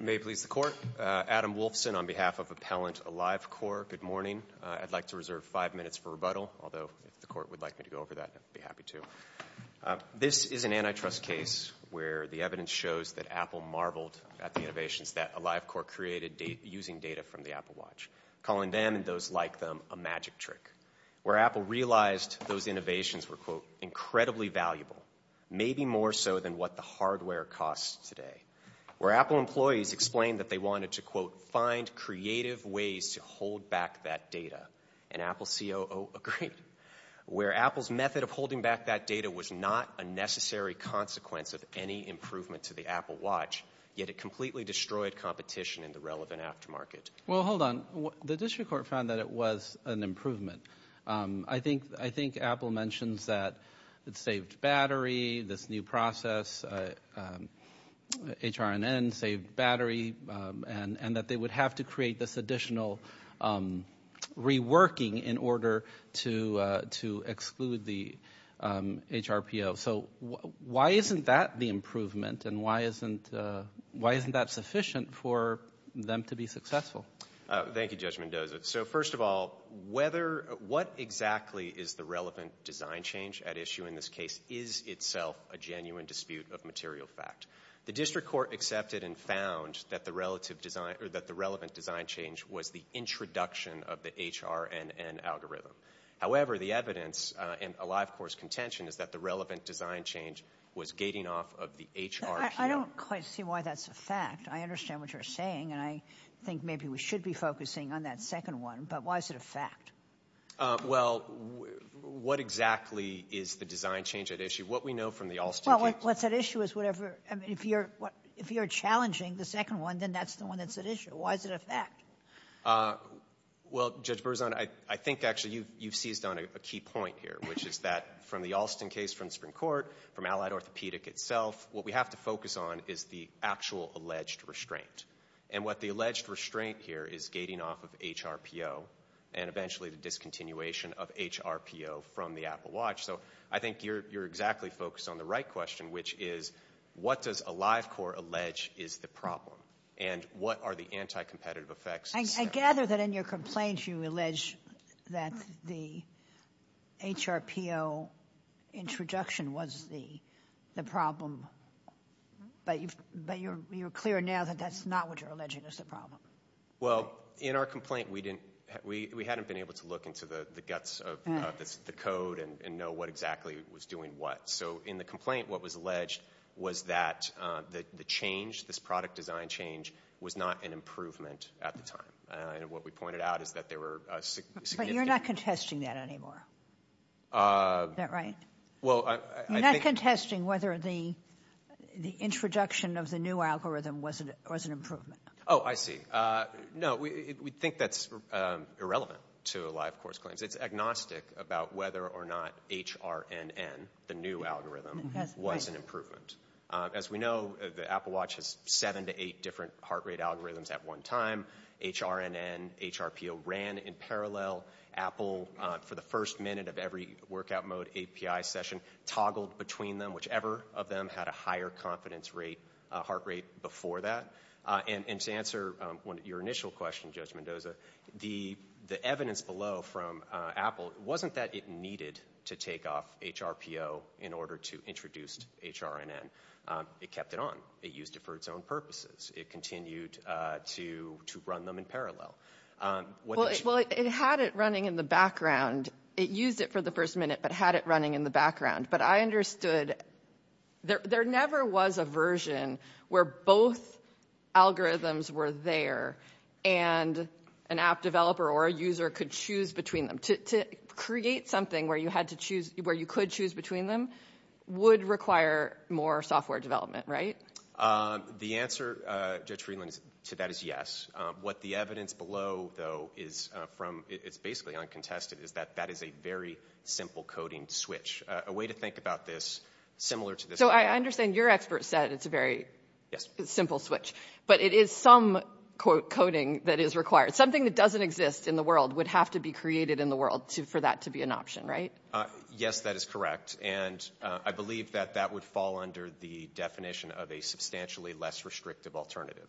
May it please the Court, Adam Wolfson on behalf of Appellant AliveCor. Good morning. I'd like to reserve five minutes for rebuttal, although if the Court would like me to go over that, I'd be happy to. This is an antitrust case where the evidence shows that Apple marveled at the innovations that AliveCor created using data from the Apple Watch, calling them and those like them a magic trick. Where Apple realized those innovations were, quote, incredibly valuable, maybe more so than what the hardware costs today. Where Apple employees explained that they wanted to, quote, find creative ways to hold back that data, and Apple COO agreed. Where Apple's method of holding back that data was not a necessary consequence of any improvement to the Apple Watch, yet it completely destroyed competition in the relevant aftermarket. Well, hold on. The district court found that it was an improvement. I think Apple mentions that it saved battery, this new process, HRNN saved battery, and that they would have to create this additional reworking in order to exclude the HRPO. So why isn't that the improvement, and why isn't that sufficient for them to be successful? Thank you, Judge Mendoza. So first of all, what exactly is the relevant design change at issue in this case is itself a genuine dispute of material fact. The district court accepted and found that the relevant design change was the introduction of the HRNN algorithm. However, the evidence in AliveCor's contention is that the relevant design change was gating off of the HRNN. I don't quite see why that's a fact. I understand what you're saying, and I think maybe we should be focusing on that second one, but why is it a fact? Well, what exactly is the design change at issue? What we know from the Alston case... Well, what's at issue is whatever... I mean, if you're challenging the second one, then that's the one that's at issue. Why is it a fact? Well, Judge Berzon, I think actually you've seized on a key point here, which is that from the Alston case, from the Supreme Court, from Allied Orthopedic itself, what we have to focus on is the actual alleged restraint. And what the alleged restraint here is gating off of HRPO, and eventually the discontinuation of HRPO from the Apple Watch. So I think you're exactly focused on the right question, which is what does AliveCor allege is the problem? And what are the anti-competitive effects? I gather that in your complaints you allege that the HRPO introduction was the problem. But you're clear now that that's not what you're alleging is the problem. Well, in our complaint, we hadn't been able to look into the guts of the code and know what exactly was doing what. So in the complaint, what was alleged was that the change, this product design change, was not an improvement at the time. And what we pointed out is that there were significant... But you're not contesting that anymore. Is that right? You're not contesting whether the introduction of the new algorithm was an improvement. Oh, I see. No, we think that's irrelevant to AliveCor's claims. It's agnostic about whether or not HRNN, the new algorithm, was an improvement. As we know, the Apple Watch has seven to eight different heart rate algorithms at one time. HRNN, HRPO ran in parallel. Apple, for the first minute of every workout mode API session, toggled between them whichever of them had a higher confidence rate, heart rate, before that. And to answer your initial question, Judge Mendoza, the evidence below from Apple wasn't that it needed to take off HRPO in order to introduce HRNN. It kept it on. It used it for its own purposes. It continued to run them in parallel. Well, it had it running in the background. It used it for the first minute but had it running in the background. But I understood there never was a version where both algorithms were there and an app developer or a user could choose between them. To create something where you could choose between them would require more software development, right? The answer, Judge Friedland, to that is yes. What the evidence below, though, is from basically uncontested is that that is a very simple coding switch. A way to think about this similar to this... So I understand your expert said it's a very simple switch. But it is some coding that is required. Something that doesn't exist in the world would have to be created in the world for that to be an option, right? Yes, that is correct. And I believe that that would fall under the definition of a substantially less restrictive alternative.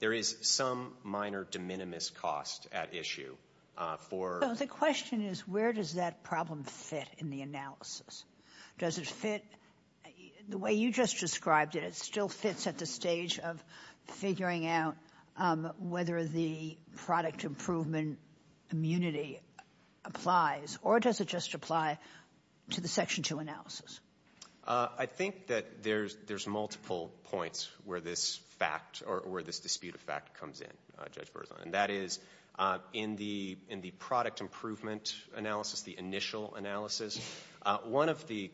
There is some minor de minimis cost at issue for... So the question is where does that problem fit in the analysis? Does it fit the way you just described it? It still fits at the stage of figuring out whether the product improvement immunity applies or does it just apply to the Section 2 analysis? I think that there's multiple points where this fact or where this dispute of fact comes in, Judge Berzon. That is in the product improvement analysis, the initial analysis, one of the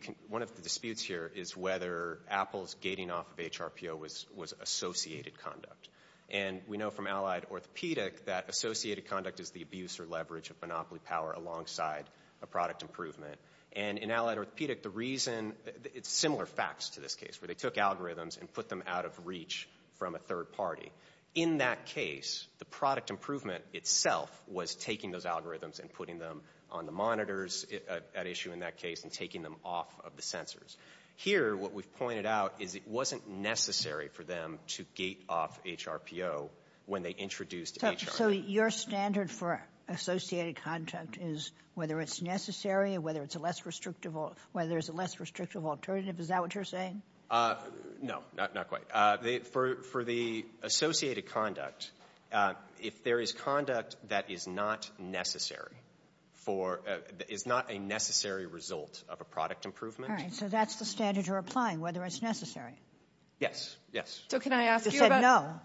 disputes here is whether Apple's gating off of HRPO was associated conduct. And we know from Allied Orthopedic that associated conduct is the abuse or leverage of monopoly power alongside a product improvement. And in Allied Orthopedic, the reason... It's similar facts to this case where they took algorithms and put them out of reach from a third party. In that case, the product improvement itself was taking those algorithms and putting them on the monitors at issue in that case and taking them off of the sensors. Here, what we've pointed out is it wasn't necessary for them to gate off HRPO when they introduced HRPO. So your standard for associated conduct is whether it's necessary, whether it's a less restrictive alternative, is that what you're saying? No, not quite. For the associated conduct, if there is conduct that is not necessary for... It's not a necessary result of a product improvement. All right, so that's the standard you're applying, whether it's necessary. Yes, yes. So can I ask you about... I said no.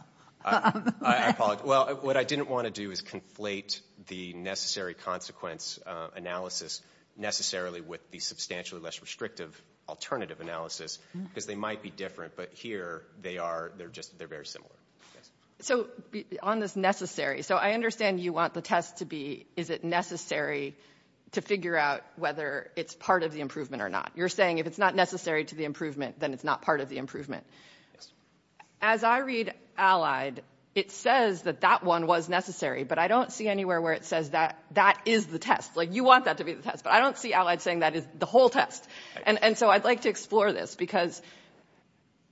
I apologize. Well, what I didn't want to do is conflate the necessary consequence analysis necessarily with the substantially less restrictive alternative analysis because they might be different. But here, they're very similar. So on this necessary, so I understand you want the test to be, is it necessary to figure out whether it's part of the improvement or not. You're saying if it's not necessary to the improvement, then it's not part of the improvement. As I read Allied, it says that that one was necessary, but I don't see anywhere where it says that that is the test. Like, you want that to be the test, but I don't see Allied saying that is the whole test. And so I'd like to explore this because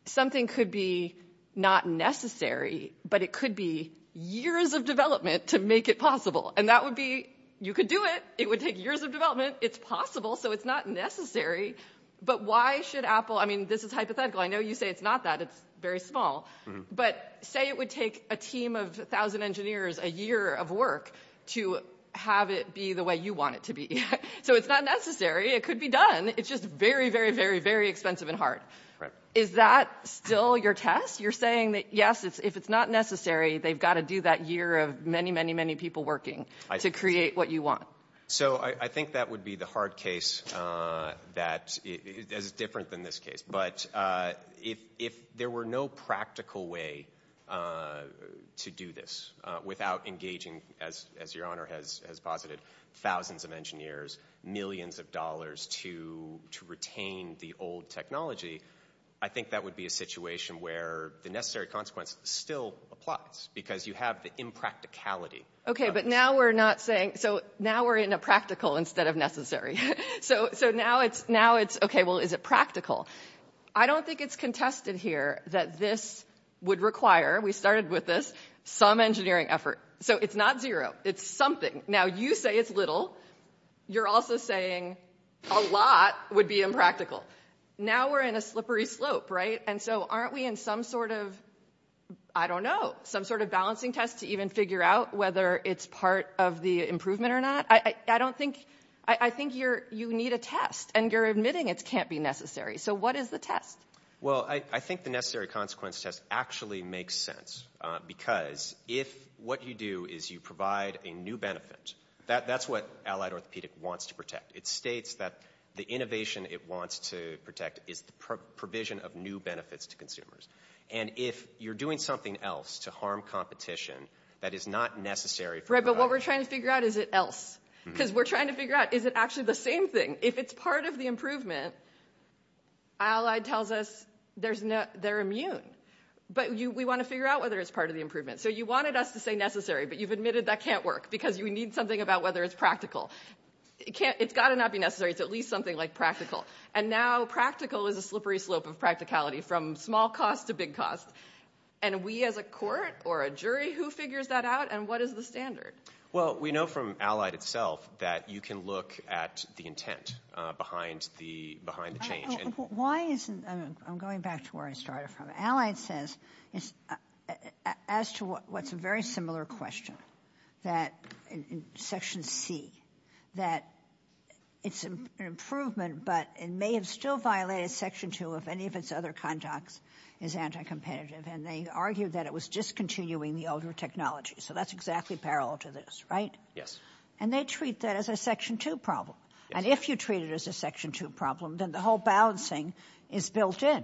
something could be not necessary, but it could be years of development to make it possible. And that would be... You could do it. It would take years of development. It's possible, so it's not necessary. But why should Apple... I mean, this is hypothetical. I know you say it's not that. It's very small. But say it would take a team of a thousand engineers a year of work to have it be the way you want it to be. So it's not necessary. It could be done. It's just very, very, very, very expensive and hard. Is that still your test? You're saying that, yes, if it's not necessary, they've got to do that year of many, many, many people working to create what you want. So I think that would be the hard case that is different than this case. But if there were no practical way to do this without engaging, as Your Honor has posited, thousands of engineers and millions of dollars to retain the old technology, I think that would be a situation where the necessary consequence still applies because you have the impracticality. Okay, but now we're not saying... So now we're in a practical instead of necessary. So now it's, okay, well, is it practical? I don't think it's contested here that this would require, we started with this, some engineering effort. So it's not zero. It's something. Now you say it's little. You're also saying a lot would be impractical. Now we're in a slippery slope, right? And so aren't we in some sort of, I don't know, some sort of balancing test to even figure out whether it's part of the improvement or not? I don't think... I think you need a test and you're admitting it can't be necessary. So what is the test? Well, I think the necessary consequence test actually makes sense because if what you do is you provide a new benefit, that's what Allied Orthopedic wants to protect. It states that the innovation it wants to protect is the provision of new benefits to consumers. And if you're doing something else to harm competition, that is not necessary. Right, but what we're trying to figure out, is it else? Because we're trying to figure out, is it actually the same thing? If it's part of the improvement, Allied tells us they're immune. But we want to figure out whether it's part of the improvement. So you wanted us to say necessary, but you've admitted that can't work because you need something about whether it's practical. It's got to not be necessary. It's at least something like practical. And now practical is a slippery slope of practicality from small cost to big cost. And we as a court or a jury, who figures that out and what is the standard? Well, we know from Allied itself that you can look at the intent behind the change. I'm going back to where I started from. Allied says, as to what's a very similar question, that in Section C, that it's an improvement, but it may have still violated Section 2 if any of its other conducts is anti-competitive. And they argue that it was discontinuing the older technology. So that's exactly parallel to this, right? Yes. And they treat that as a Section 2 problem. And if you treat it as a Section 2 problem, then the whole balancing is built in.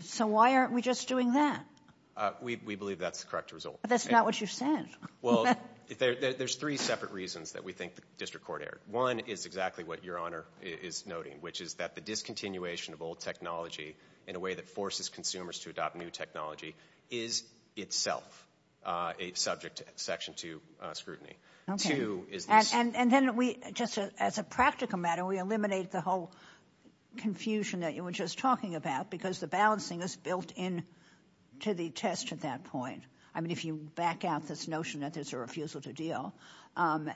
So why aren't we just doing that? We believe that's the correct result. But that's not what you said. Well, there's three separate reasons that we think the District Court erred. One is exactly what Your Honor is noting, which is that the discontinuation of old technology in a way that forces consumers to adopt new technology is itself a subject to Section 2 scrutiny. And then just as a practical matter, we eliminate the whole confusion that you were just talking about, because the balancing is built into the test at that point. I mean, if you back out this notion that there's a refusal to deal. And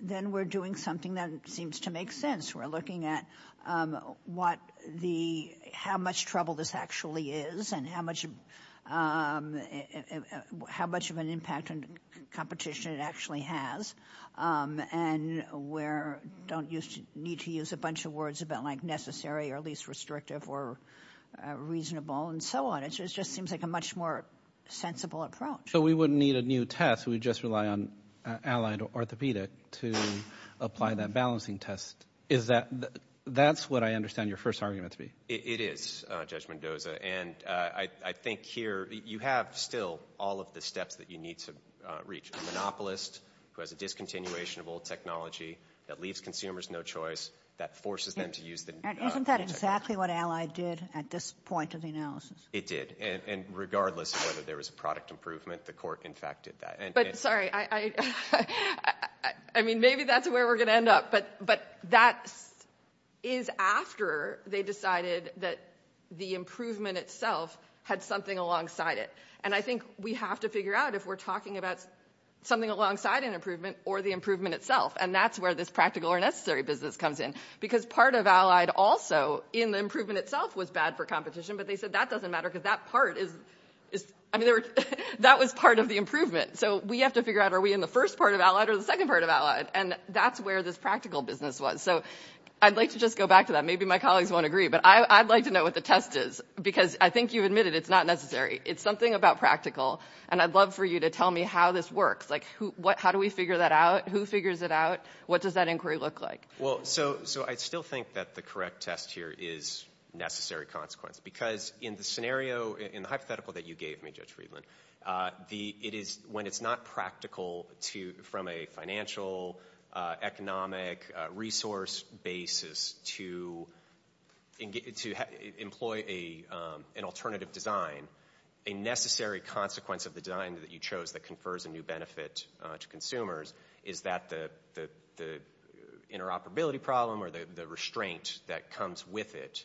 then we're doing something that seems to make sense. We're looking at how much trouble this actually is, and how much of an impact on competition it actually has, and where you don't need to use a bunch of words about, like, necessary or least restrictive or reasonable and so on. It just seems like a much more sensible approach. So we wouldn't need a new test. We'd just rely on allied orthopedic to apply that balancing test. That's what I understand your first argument to be. It is, Judge Mendoza. And I think here you have still all of the steps that you need to reach a monopolist who has a discontinuation of old technology that leaves consumers no choice, that forces them to use the new technology. Isn't that exactly what Allied did at this point of the analysis? It did. And regardless of whether there was a product improvement, the court, in fact, did that. But, sorry, I mean, maybe that's where we're going to end up. But that is after they decided that the improvement itself had something alongside it. And I think we have to figure out if we're talking about something alongside an improvement or the improvement itself. And that's where this practical or necessary business comes in. Because part of Allied also in the improvement itself was bad for competition, but they said that doesn't matter because that part is, I mean, that was part of the improvement. So we have to figure out, are we in the first part of Allied or the second part of Allied? And that's where this practical business was. So I'd like to just go back to that. Maybe my colleagues won't agree, but I'd like to know what the test is. Because I think you admitted it's not necessary. It's something about practical. And I'd love for you to tell me how this works. Like, how do we figure that out? Who figures it out? What does that inquiry look like? Well, so I still think that the correct test here is necessary consequence. Because in the scenario, in the hypothetical that you gave me, Judge Friedland, when it's not practical from a financial, economic, resource basis to employ an alternative design, a necessary consequence of the design that you chose that confers a new benefit to consumers is that the interoperability problem or the restraint that comes with it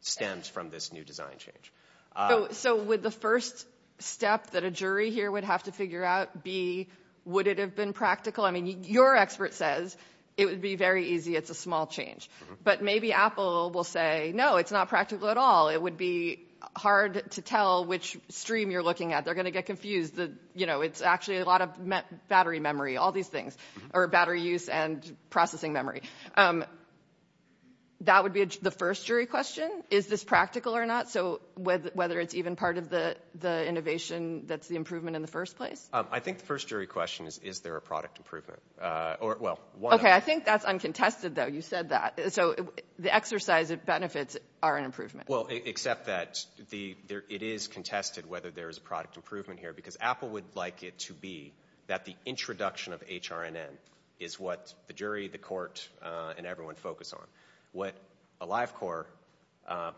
stems from this new design change. So would the first step that a jury here would have to figure out be, would it have been practical? I mean, your expert says it would be very easy. It's a small change. But maybe Apple will say, no, it's not practical at all. It would be hard to tell which stream you're looking at. They're going to get confused. You know, it's actually a lot of battery memory, all these things, or battery use and processing memory. That would be the first jury question. Is this practical or not? So whether it's even part of the innovation that's the improvement in the first place? I think the first jury question is, is there a product improvement? Okay, I think that's uncontested, though. You said that. So the exercise of benefits are an improvement. Well, except that it is contested whether there is a product improvement here, because Apple would like it to be that the introduction of HRNN is what the jury, the court, and everyone focus on. What AliveCor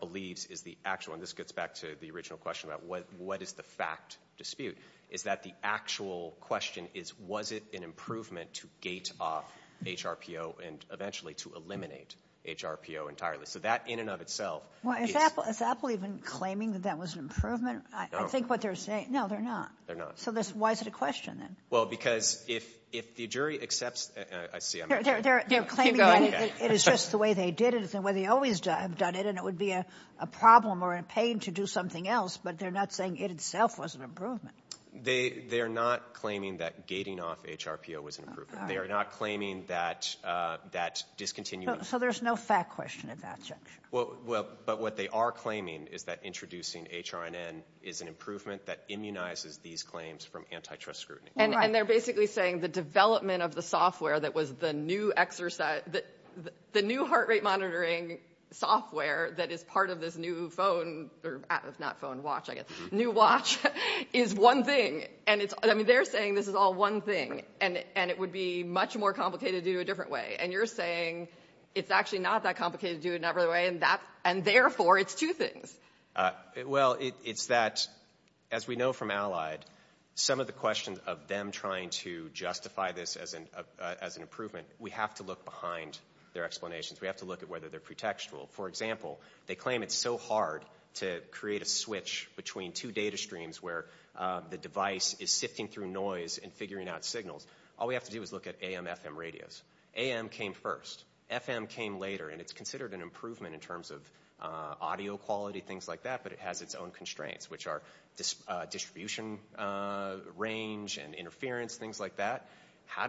believes is the actual, and this gets back to the original question about what is the fact dispute, is that the actual question is, was it an improvement to gate off HRPO and eventually to eliminate HRPO entirely? So that in and of itself. Well, is Apple even claiming that that was an improvement? I think what they're saying, no, they're not. They're not. So why is it a question then? Well, because if the jury accepts, I see. They're claiming it is just the way they did it, it's the way they always have done it, and it would be a problem or a pain to do something else, but they're not saying it itself was an improvement. They're not claiming that gating off HRPO was an improvement. They're not claiming that discontinuing. So there's no fact question at that. Well, but what they are claiming is that introducing HRNN is an improvement that immunizes these claims from antitrust scrutiny. And they're basically saying the development of the software that was the new heart rate monitoring software that is part of this new watch is one thing. I mean, they're saying this is all one thing, and it would be much more complicated to do it a different way. And you're saying it's actually not that complicated to do it in that way, and therefore it's two things. Well, it's that, as we know from Allied, some of the questions of them trying to justify this as an improvement, we have to look behind their explanations. We have to look at whether they're pretextual. For example, they claim it's so hard to create a switch between two data streams where the device is sifting through noise and figuring out signals. All we have to do is look at AM-FM radios. AM came first. FM came later. And it's considered an improvement in terms of audio quality, things like that, but it has its own constraints, which are distribution range and interference, things like that. How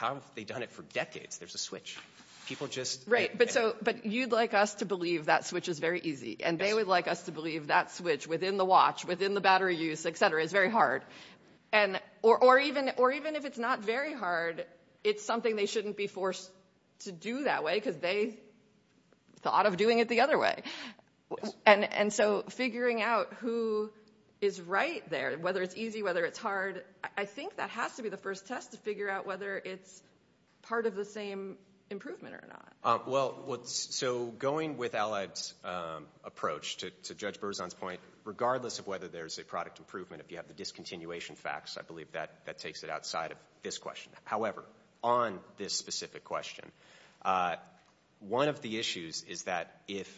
have they done it for decades? There's a switch. People just... Right, but you'd like us to believe that switch is very easy, and they would like us to believe that switch within the watch, within the battery use, et cetera, is very hard. Or even if it's not very hard, it's something they shouldn't be forced to do that way because they thought of doing it the other way. And so figuring out who is right there, whether it's easy, whether it's hard, I think that has to be the first test to figure out whether it's part of the same improvement or not. Well, so going with Allied's approach to Judge Berzon's point, regardless of whether there's a product improvement, if you have the discontinuation facts, I believe that takes it outside of this question. However, on this specific question, one of the issues is that if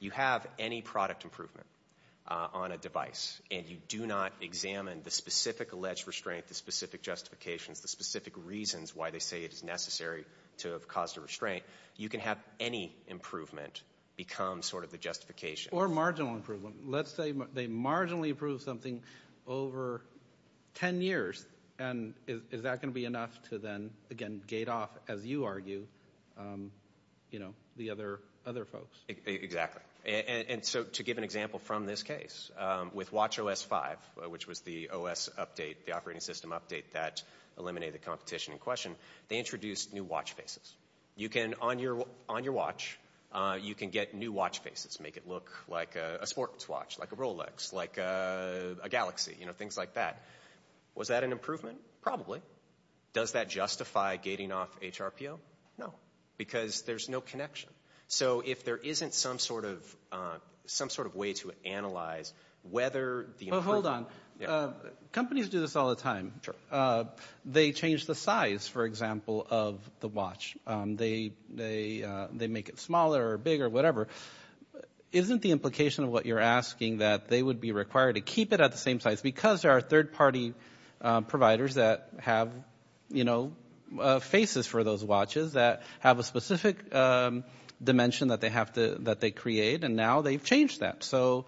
you have any product improvement on a device and you do not examine the specific alleged restraint, the specific justification, the specific reasons why they say it's necessary to have caused a restraint, you can have any improvement become sort of the justification. Or marginal improvement. Let's say they marginally improve something over 10 years. And is that going to be enough to then, again, gate off, as you argue, the other folks? Exactly. And so to give an example from this case, with Watch OS 5, which was the OS update, the operating system update that eliminated competition in question, they introduced new watch faces. You can, on your watch, you can get new watch faces to make it look like a sports watch, like a Rolex, like a Galaxy, you know, things like that. Was that an improvement? Probably. Does that justify gating off HRPO? No, because there's no connection. So if there isn't some sort of way to analyze whether the improvement Well, hold on. Companies do this all the time. They change the size, for example, of the watch. They make it smaller or bigger, whatever. Isn't the implication of what you're asking that they would be required to keep it at the same size? Because there are third-party providers that have, you know, faces for those watches that have a specific dimension that they create, and now they've changed that. So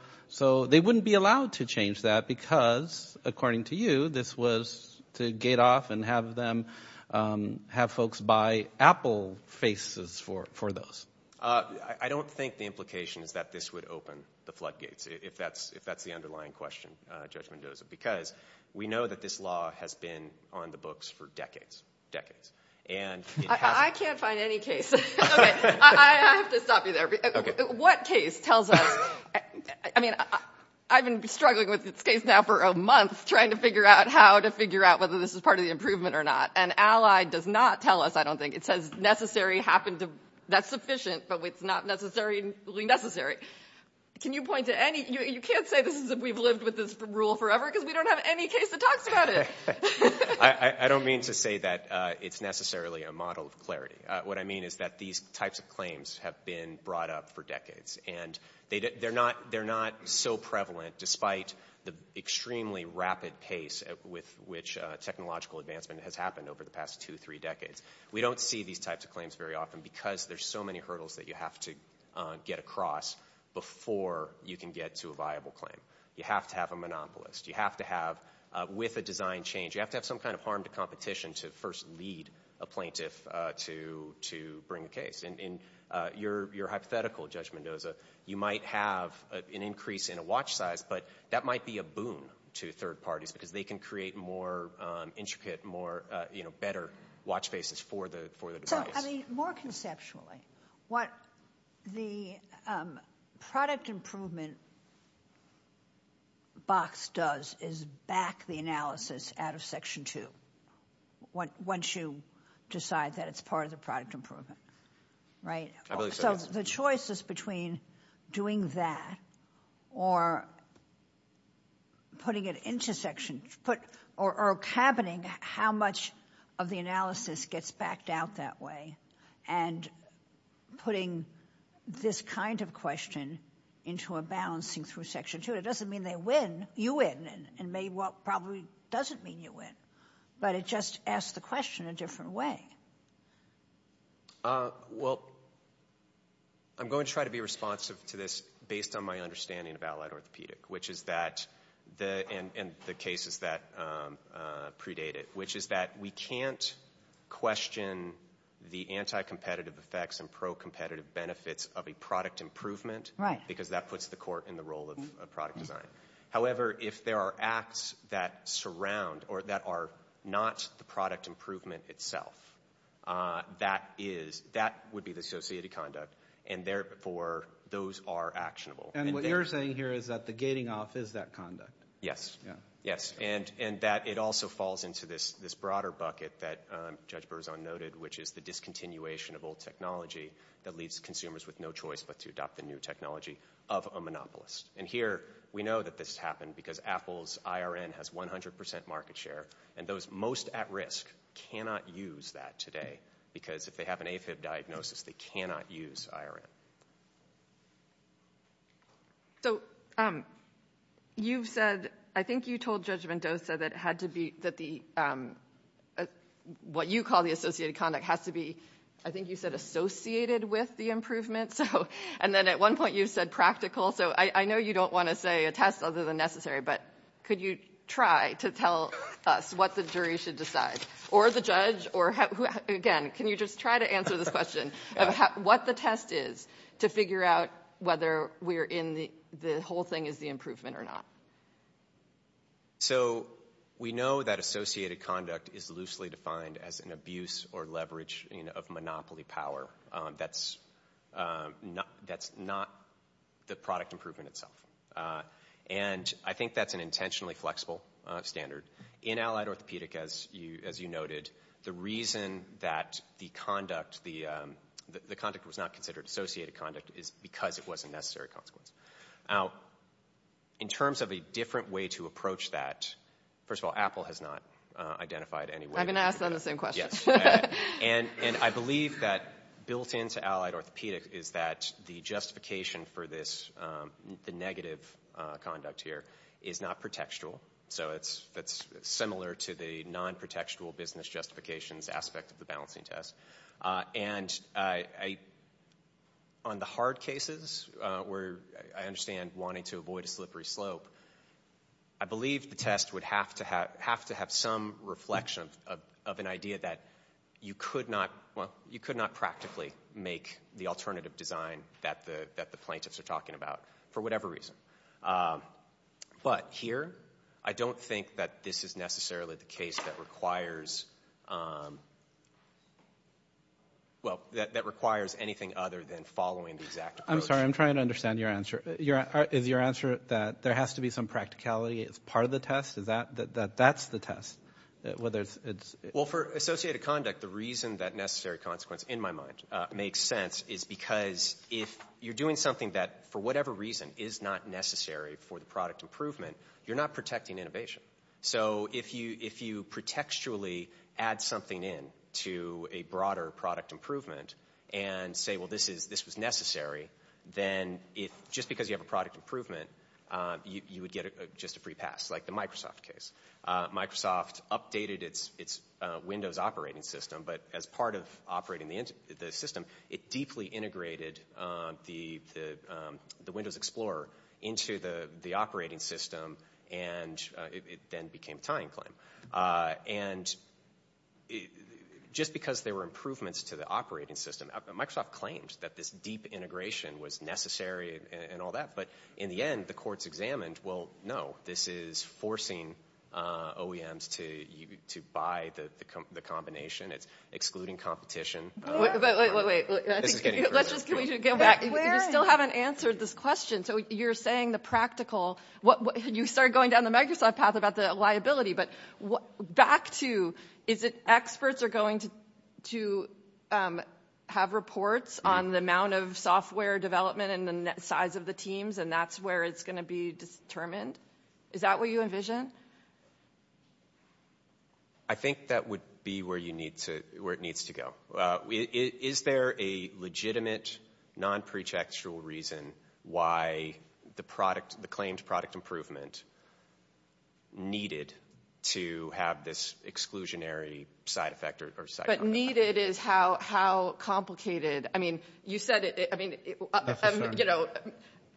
they wouldn't be allowed to change that because, according to you, this was to gate off and have folks buy Apple faces for those. I don't think the implication is that this would open the floodgates, if that's the underlying question, Judge Mendoza, because we know that this law has been on the books for decades, decades. I can't find any case. I have to stop you there. What case tells us? I mean, I've been struggling with this case now for a month, trying to figure out how to figure out whether this is part of the improvement or not, and Allied does not tell us, I don't think. It says necessary happens if that's sufficient, but it's not necessarily necessary. Can you point to any? You can't say this is if we've lived with this rule forever because we don't have any case that talks about it. I don't mean to say that it's necessarily a model of clarity. What I mean is that these types of claims have been brought up for decades, and they're not so prevalent despite the extremely rapid pace with which technological advancement has happened over the past two, three decades. We don't see these types of claims very often because there's so many hurdles that you have to get across before you can get to a viable claim. You have to have a monopolist. You have to have, with a design change, you have to have some kind of harm to competition to first lead a plaintiff to bring a case. Your hypothetical, Judge Mendoza, you might have an increase in a watch size, but that might be a boon to third parties because they can create more intricate, better watch faces for the device. More conceptually, what the product improvement box does is back the analysis out of Section 2 once you decide that it's part of the product improvement. So the choice is between doing that or putting it into Section 2 or happening how much of the analysis gets backed out that way and putting this kind of question into a balancing through Section 2. It doesn't mean they win. You win, and maybe what probably doesn't mean you win, but it just asks the question in a different way. Well, I'm going to try to be responsive to this based on my understanding about lead orthopedic, and the cases that predate it, which is that we can't question the anti-competitive effects and pro-competitive benefits of a product improvement because that puts the court in the role of product design. However, if there are acts that surround or that are not the product improvement itself, that would be the associated conduct, and therefore those are actionable. And what you're saying here is that the gating off is that conduct. Yes. Yes, and that it also falls into this broader bucket that Judge Berzon noted, which is the discontinuation of old technology that leaves consumers with no choice but to adopt the new technology of a monopolist. And here we know that this happened because Apple's IRN has 100% market share, and those most at risk cannot use that today because if they have an AFib diagnosis, they cannot use IRN. So you've said, I think you told Judge Mendoza that what you call the associated conduct has to be, I think you said, associated with the improvement. And then at one point you said practical. So I know you don't want to say a test other than necessary, but could you try to tell us what the jury should decide? Or the judge? Again, can you just try to answer the question of what the test is to figure out whether the whole thing is the improvement or not? So we know that associated conduct is loosely defined as an abuse or leverage of monopoly power. That's not the product improvement itself. And I think that's an intentionally flexible standard. In allied orthopedic, as you noted, the reason that the conduct was not considered associated conduct is because it was a necessary consequence. Now, in terms of a different way to approach that, first of all, Apple has not identified any way. I'm going to ask them the same question. And I believe that built into allied orthopedic is that the justification for the negative conduct here is not pretextual. So it's similar to the non-pretextual business justifications aspect of the balancing test. And on the hard cases where I understand wanting to avoid a slippery slope, I believe the test would have to have some reflection of an idea that you could not practically make the alternative design that the plaintiffs are talking about for whatever reason. But here, I don't think that this is necessarily the case that requires anything other than following the exact approach. I'm sorry. I'm trying to understand your answer. Is your answer that there has to be some practicality as part of the test? That that's the test? Well, for associated conduct, the reason that necessary consequence in my mind makes sense is because if you're doing something that, for whatever reason, is not necessary for the product improvement, you're not protecting innovation. So if you pretextually add something in to a broader product improvement and say, well, this is necessary, then just because you have a product improvement, you would get just a free pass, like the Microsoft case. Microsoft updated its Windows operating system, but as part of operating the system, it deeply integrated the Windows Explorer into the operating system, and it then became a tying claim. And just because there were improvements to the operating system, Microsoft claims that this deep integration was necessary and all that, but in the end, the courts examined, well, no, this is forcing OEMs to buy the combination. It's excluding competition. Wait, wait, wait. Let's just get back. You still haven't answered this question. So you're saying the practical. You started going down the Microsoft path about the liability, but back to is it experts are going to have reports on the amount of software development and the size of the teams, and that's where it's going to be determined? Is that what you envision? I think that would be where it needs to go. Is there a legitimate, non-prejectual reason why the claimed product improvement needed to have this exclusionary side effect? But needed is how complicated. I mean, you said it.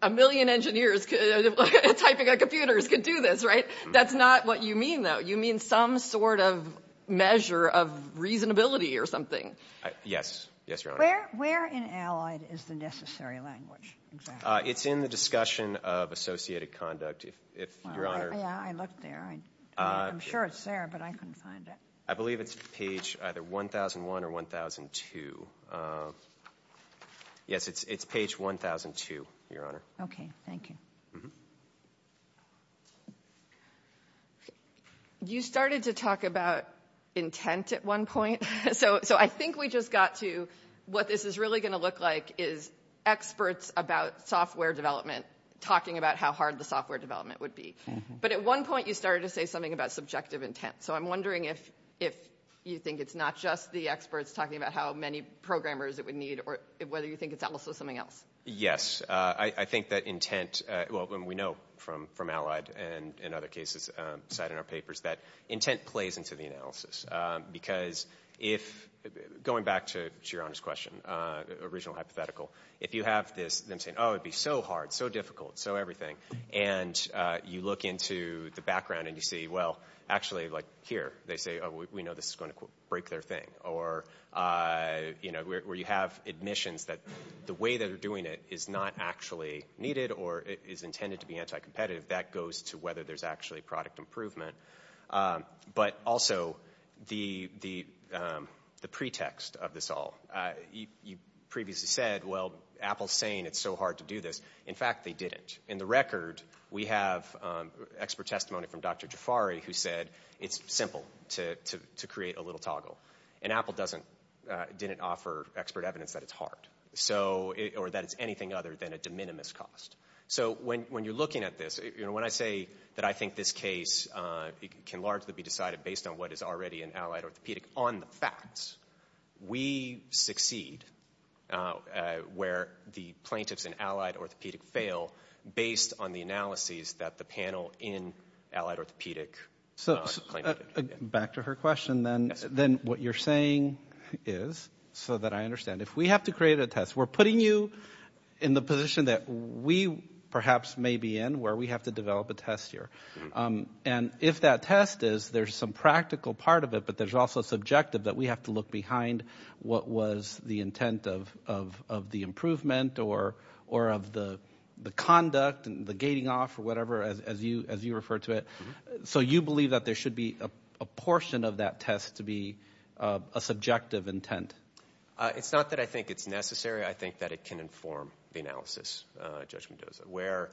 A million engineers typing at computers could do this, right? That's not what you mean, though. You mean some sort of measure of reasonability or something. Yes, Your Honor. Where in Allied is the necessary language? It's in the discussion of associated conduct, Your Honor. I looked there. I'm sure it's there, but I couldn't find it. I believe it's page either 1001 or 1002. Yes, it's page 1002, Your Honor. Okay, thank you. You started to talk about intent at one point, so I think we just got to what this is really going to look like is experts about software development talking about how hard the software development would be. But at one point you started to say something about subjective intent, so I'm wondering if you think it's not just the experts talking about how many programmers it would need or whether you think it's also something else. Yes. I think that intent – well, we know from Allied and in other cases cited in our papers that intent plays into the analysis because if – going back to Your Honor's question, original hypothetical, if you have them saying, oh, it would be so hard, so difficult, so everything, and you look into the background and you see, well, actually, like here, they say, oh, we know this is going to break their thing, or where you have admissions that the way they're doing it is not actually needed or is intended to be anti-competitive. That goes to whether there's actually product improvement. But also the pretext of this all. You previously said, well, Apple's saying it's so hard to do this. In fact, they did it. In the record, we have expert testimony from Dr. Jafari who said it's simple to create a little toggle, and Apple didn't offer expert evidence that it's hard or that it's anything other than a de minimis cost. So when you're looking at this, when I say that I think this case can largely be decided based on what is already in Allied Orthopedic on the facts, we succeed where the plaintiffs in Allied Orthopedic fail based on the analyses that the panel in Allied Orthopedic. Back to her question then. What you're saying is, so that I understand, if we have to create a test, we're putting you in the position that we perhaps may be in where we have to develop a test here. And if that test is, there's some practical part of it, but there's also subjective that we have to look behind what was the intent of the improvement or of the conduct and the gating off or whatever, as you refer to it. So you believe that there should be a portion of that test to be a subjective intent? It's not that I think it's necessary. I think that it can inform the analysis, Judge Mendoza, where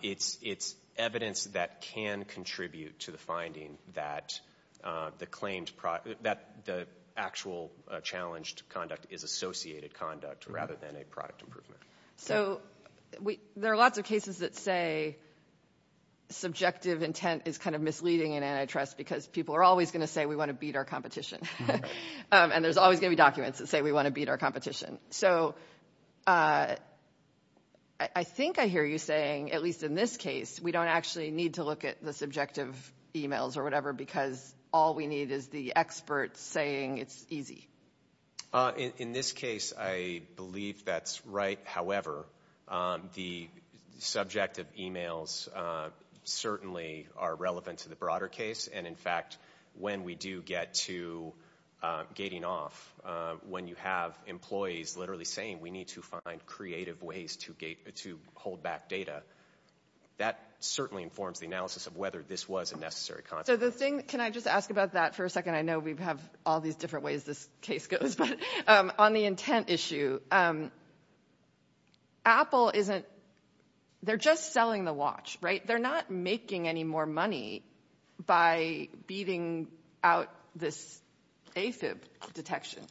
it's evidence that can contribute to the finding that the claims, that the actual challenged conduct is associated conduct rather than a product improvement. So there are lots of cases that say subjective intent is kind of misleading and antitrust because people are always going to say we want to beat our competition. And there's always going to be documents that say we want to beat our competition. So I think I hear you saying, at least in this case, we don't actually need to look at the subjective emails or whatever because all we need is the experts saying it's easy. In this case, I believe that's right. However, the subjective emails certainly are relevant to the broader case. And, in fact, when we do get to gating off, when you have employees literally saying we need to find creative ways to hold back data, that certainly informs the analysis of whether this was a necessary concept. So the thing, can I just ask about that for a second? I know we have all these different ways this case goes. On the intent issue, Apple isn't, they're just selling the watch, right? They're not making any more money by beating out this AFib detection.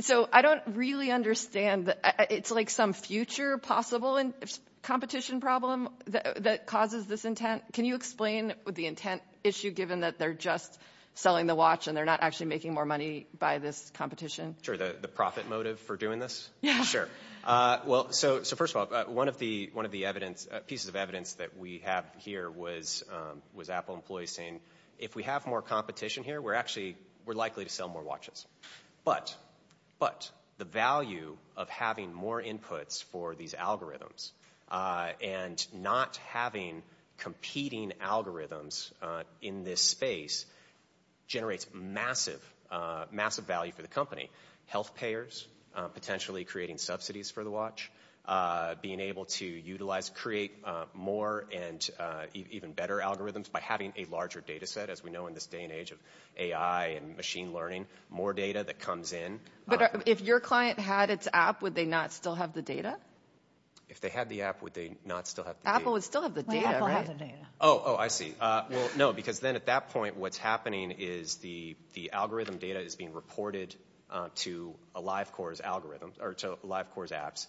So I don't really understand. It's like some future possible competition problem that causes this intent. Can you explain the intent issue given that they're just selling the watch and they're not actually making more money by this competition? Sure, the profit motive for doing this? Yeah. Sure. Well, so first of all, one of the pieces of evidence that we have here was Apple employees saying, if we have more competition here, we're likely to sell more watches. But the value of having more inputs for these algorithms and not having competing algorithms in this space generates massive value for the company. Health payers potentially creating subsidies for the watch, being able to utilize, create more and even better algorithms by having a larger data set, especially as we know in this day and age of AI and machine learning, more data that comes in. But if your client had its app, would they not still have the data? If they had the app, would they not still have the data? Apple would still have the data, right? Oh, I see. Well, no, because then at that point what's happening is the algorithm data is being reported to AliveCore's algorithms or to AliveCore's apps.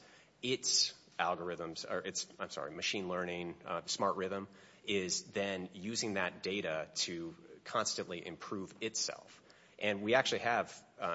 I'm sorry, machine learning, smart rhythm is then using that data to constantly improve itself. And we actually have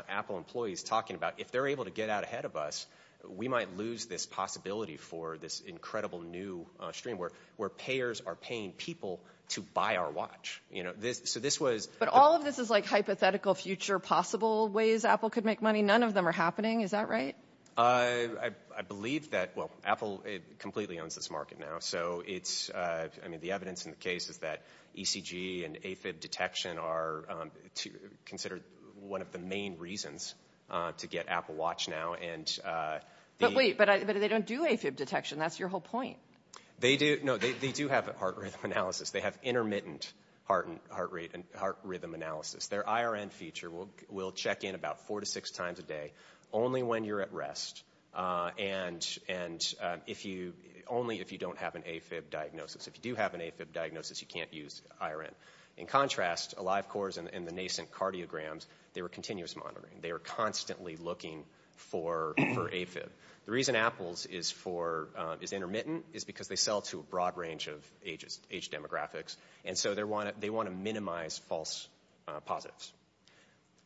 Apple employees talking about, if they're able to get out ahead of us, we might lose this possibility for this incredible new stream where payers are paying people to buy our watch. But all of this is like hypothetical future possible ways Apple could make money. None of them are happening. Is that right? I believe that, well, Apple completely owns this market now. So it's, I mean, the evidence in the case is that ECG and AFib detection are considered one of the main reasons to get Apple Watch now. But wait, but they don't do AFib detection. That's your whole point. No, they do have a heart rate analysis. They have intermittent heart rate and heart rhythm analysis. Their IRN feature will check in about four to six times a day only when you're at rest and only if you don't have an AFib diagnosis. If you do have an AFib diagnosis, you can't use IRN. In contrast, AliveCore's and the nascent cardiograms, they were continuous monitoring. They were constantly looking for AFib. The reason Apple is intermittent is because they sell to a broad range of age demographics. And so they want to minimize false positives.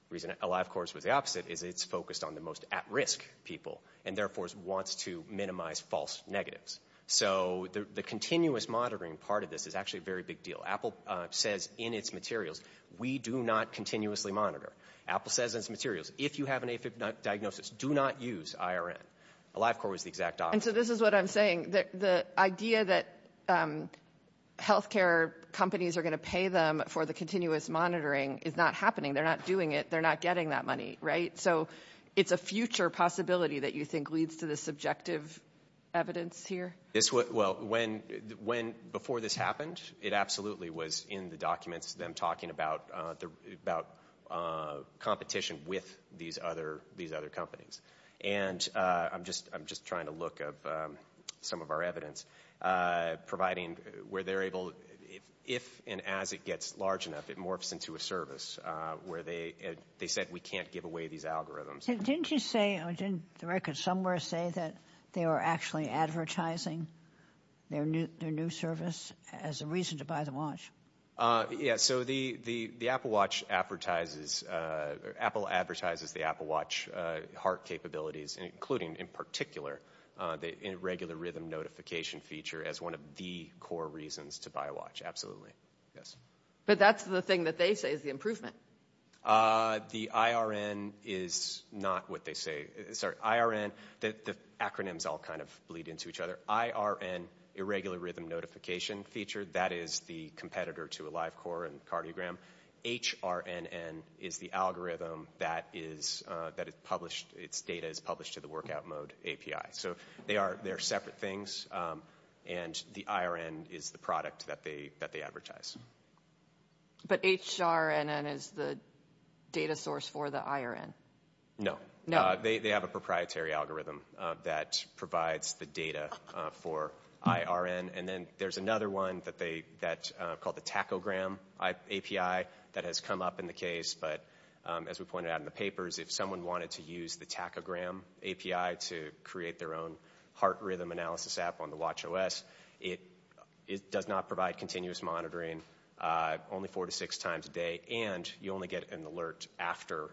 The reason AliveCore is the opposite is it's focused on the most at-risk people and therefore wants to minimize false negatives. So the continuous monitoring part of this is actually a very big deal. Apple says in its materials, we do not continuously monitor. Apple says in its materials, if you have an AFib diagnosis, do not use IRN. AliveCore is the exact opposite. And so this is what I'm saying. The idea that health care companies are going to pay them for the continuous monitoring is not happening. They're not doing it. They're not getting that money, right? So it's a future possibility that you think leads to the subjective evidence here. Well, before this happened, it absolutely was in the documents, them talking about competition with these other companies. And I'm just trying to look at some of our evidence providing where they're able, if and as it gets large enough, it morphs into a service where they said, we can't give away these algorithms. Didn't you say, didn't the record somewhere say that they are actually advertising their new service as a reason to buy the watch? Yeah, so the Apple Watch advertises the Apple Watch heart capabilities, including in particular the irregular rhythm notification feature as one of the core reasons to buy a watch. Absolutely. But that's the thing that they say is the improvement. The IRN is not what they say. Sorry, IRN, the acronyms all kind of bleed into each other. IRN, irregular rhythm notification feature, that is the competitor to a live core and cardiogram. HRNN is the algorithm that it's data is published to the workout mode API. So they are separate things. And the IRN is the product that they advertise. But HRNN is the data source for the IRN? No. They have a proprietary algorithm that provides the data for IRN. And then there's another one that's called the tachogram API that has come up in the case. But as we pointed out in the papers, if someone wanted to use the tachogram API to create their own heart rhythm analysis app on the watch OS, it does not provide continuous monitoring only four to six times a day, and you only get an alert after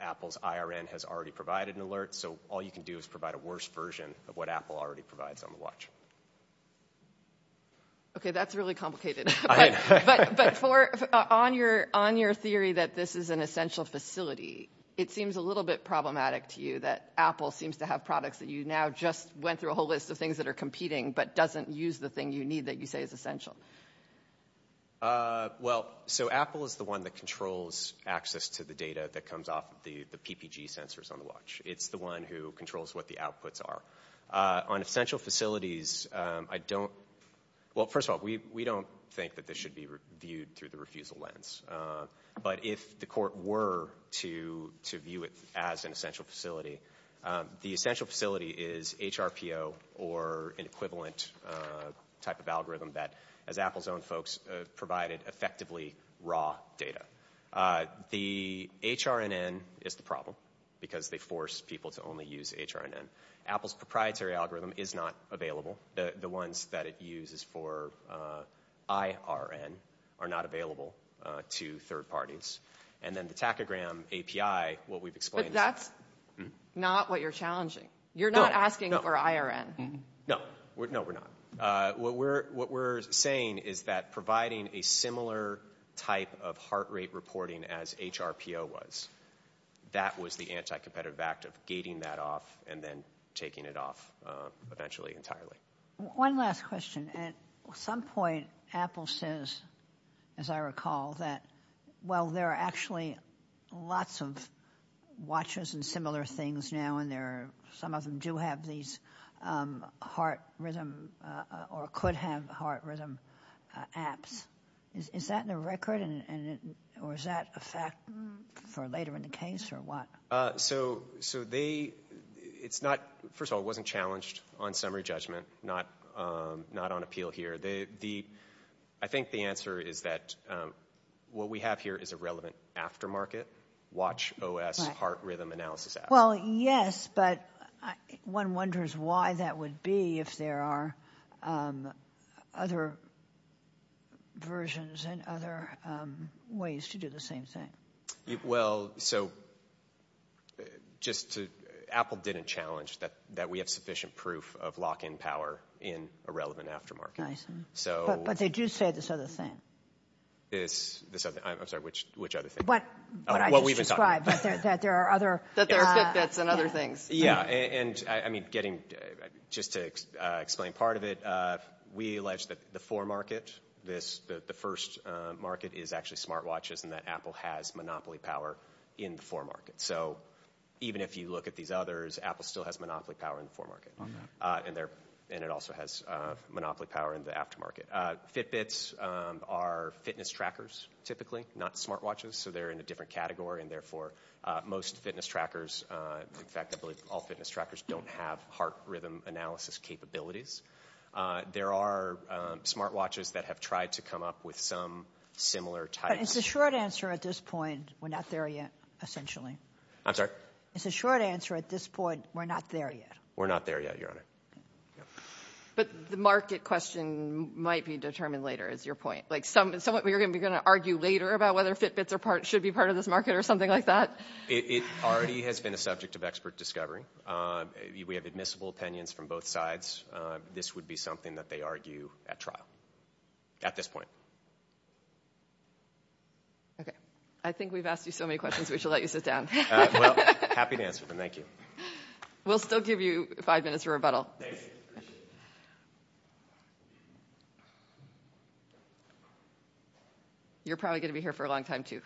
Apple's IRN has already provided an alert. So all you can do is provide a worse version of what Apple already provides on the watch. Okay, that's really complicated. But on your theory that this is an essential facility, it seems a little bit problematic to you that Apple seems to have products that you now just went through a whole list of things that are competing but doesn't use the thing you need that you say is essential. Well, so Apple is the one that controls access to the data that comes off the PPG sensors on the watch. It's the one who controls what the outputs are. On essential facilities, I don't – well, first of all, we don't think that this should be viewed through the refusal lens. But if the court were to view it as an essential facility, the essential facility is HRPO or an equivalent type of algorithm that, as Apple's own folks, provided effectively raw data. The HRNN is the problem because they force people to only use HRNN. Apple's proprietary algorithm is not available. The ones that it uses for IRN are not available to third parties. And then the tachygram API, what we've explained – But that's not what you're challenging. You're not asking for IRN. No, no, we're not. What we're saying is that providing a similar type of heart rate reporting as HRPO was, that was the anti-competitive act of gating that off and then taking it off eventually entirely. One last question. At some point, Apple says, as I recall, that while there are actually lots of watches and similar things now, and some of them do have these heart rhythm or could have heart rhythm apps, is that in their record or is that a fact for later in the case or what? So they – first of all, it wasn't challenged on summary judgment, not on appeal here. I think the answer is that what we have here is a relevant aftermarket watch OS heart rhythm analysis app. Well, yes, but one wonders why that would be if there are other versions and other ways to do the same thing. Well, so just to – Apple didn't challenge that we have sufficient proof of lock-in power in a relevant aftermarket. I see. But they do say this other thing. I'm sorry, which other thing? What I just described, that there are other – That there are Fitbits and other things. Yeah, and, I mean, getting – just to explain part of it, we allege that the for market, the first market is actually smartwatches and that Apple has monopoly power in the for market. So even if you look at these others, Apple still has monopoly power in the for market, and it also has monopoly power in the aftermarket. Fitbits are fitness trackers, typically, not smartwatches. So they're in a different category, and, therefore, most fitness trackers – in fact, I believe all fitness trackers don't have heart rhythm analysis capabilities. There are smartwatches that have tried to come up with some similar type – It's a short answer at this point. We're not there yet, essentially. I'm sorry? It's a short answer at this point. We're not there yet. We're not there yet, Your Honor. But the market question might be determined later, is your point? Like, you're going to argue later about whether Fitbits should be part of this market or something like that? It already has been a subject of expert discovery. We have admissible opinions from both sides. This would be something that they argue at trial at this point. Okay. I think we've asked you so many questions we should let you sit down. Well, happy to answer them. Thank you. We'll still give you five minutes of rebuttal. Thank you. You're probably going to be here for a long time, too.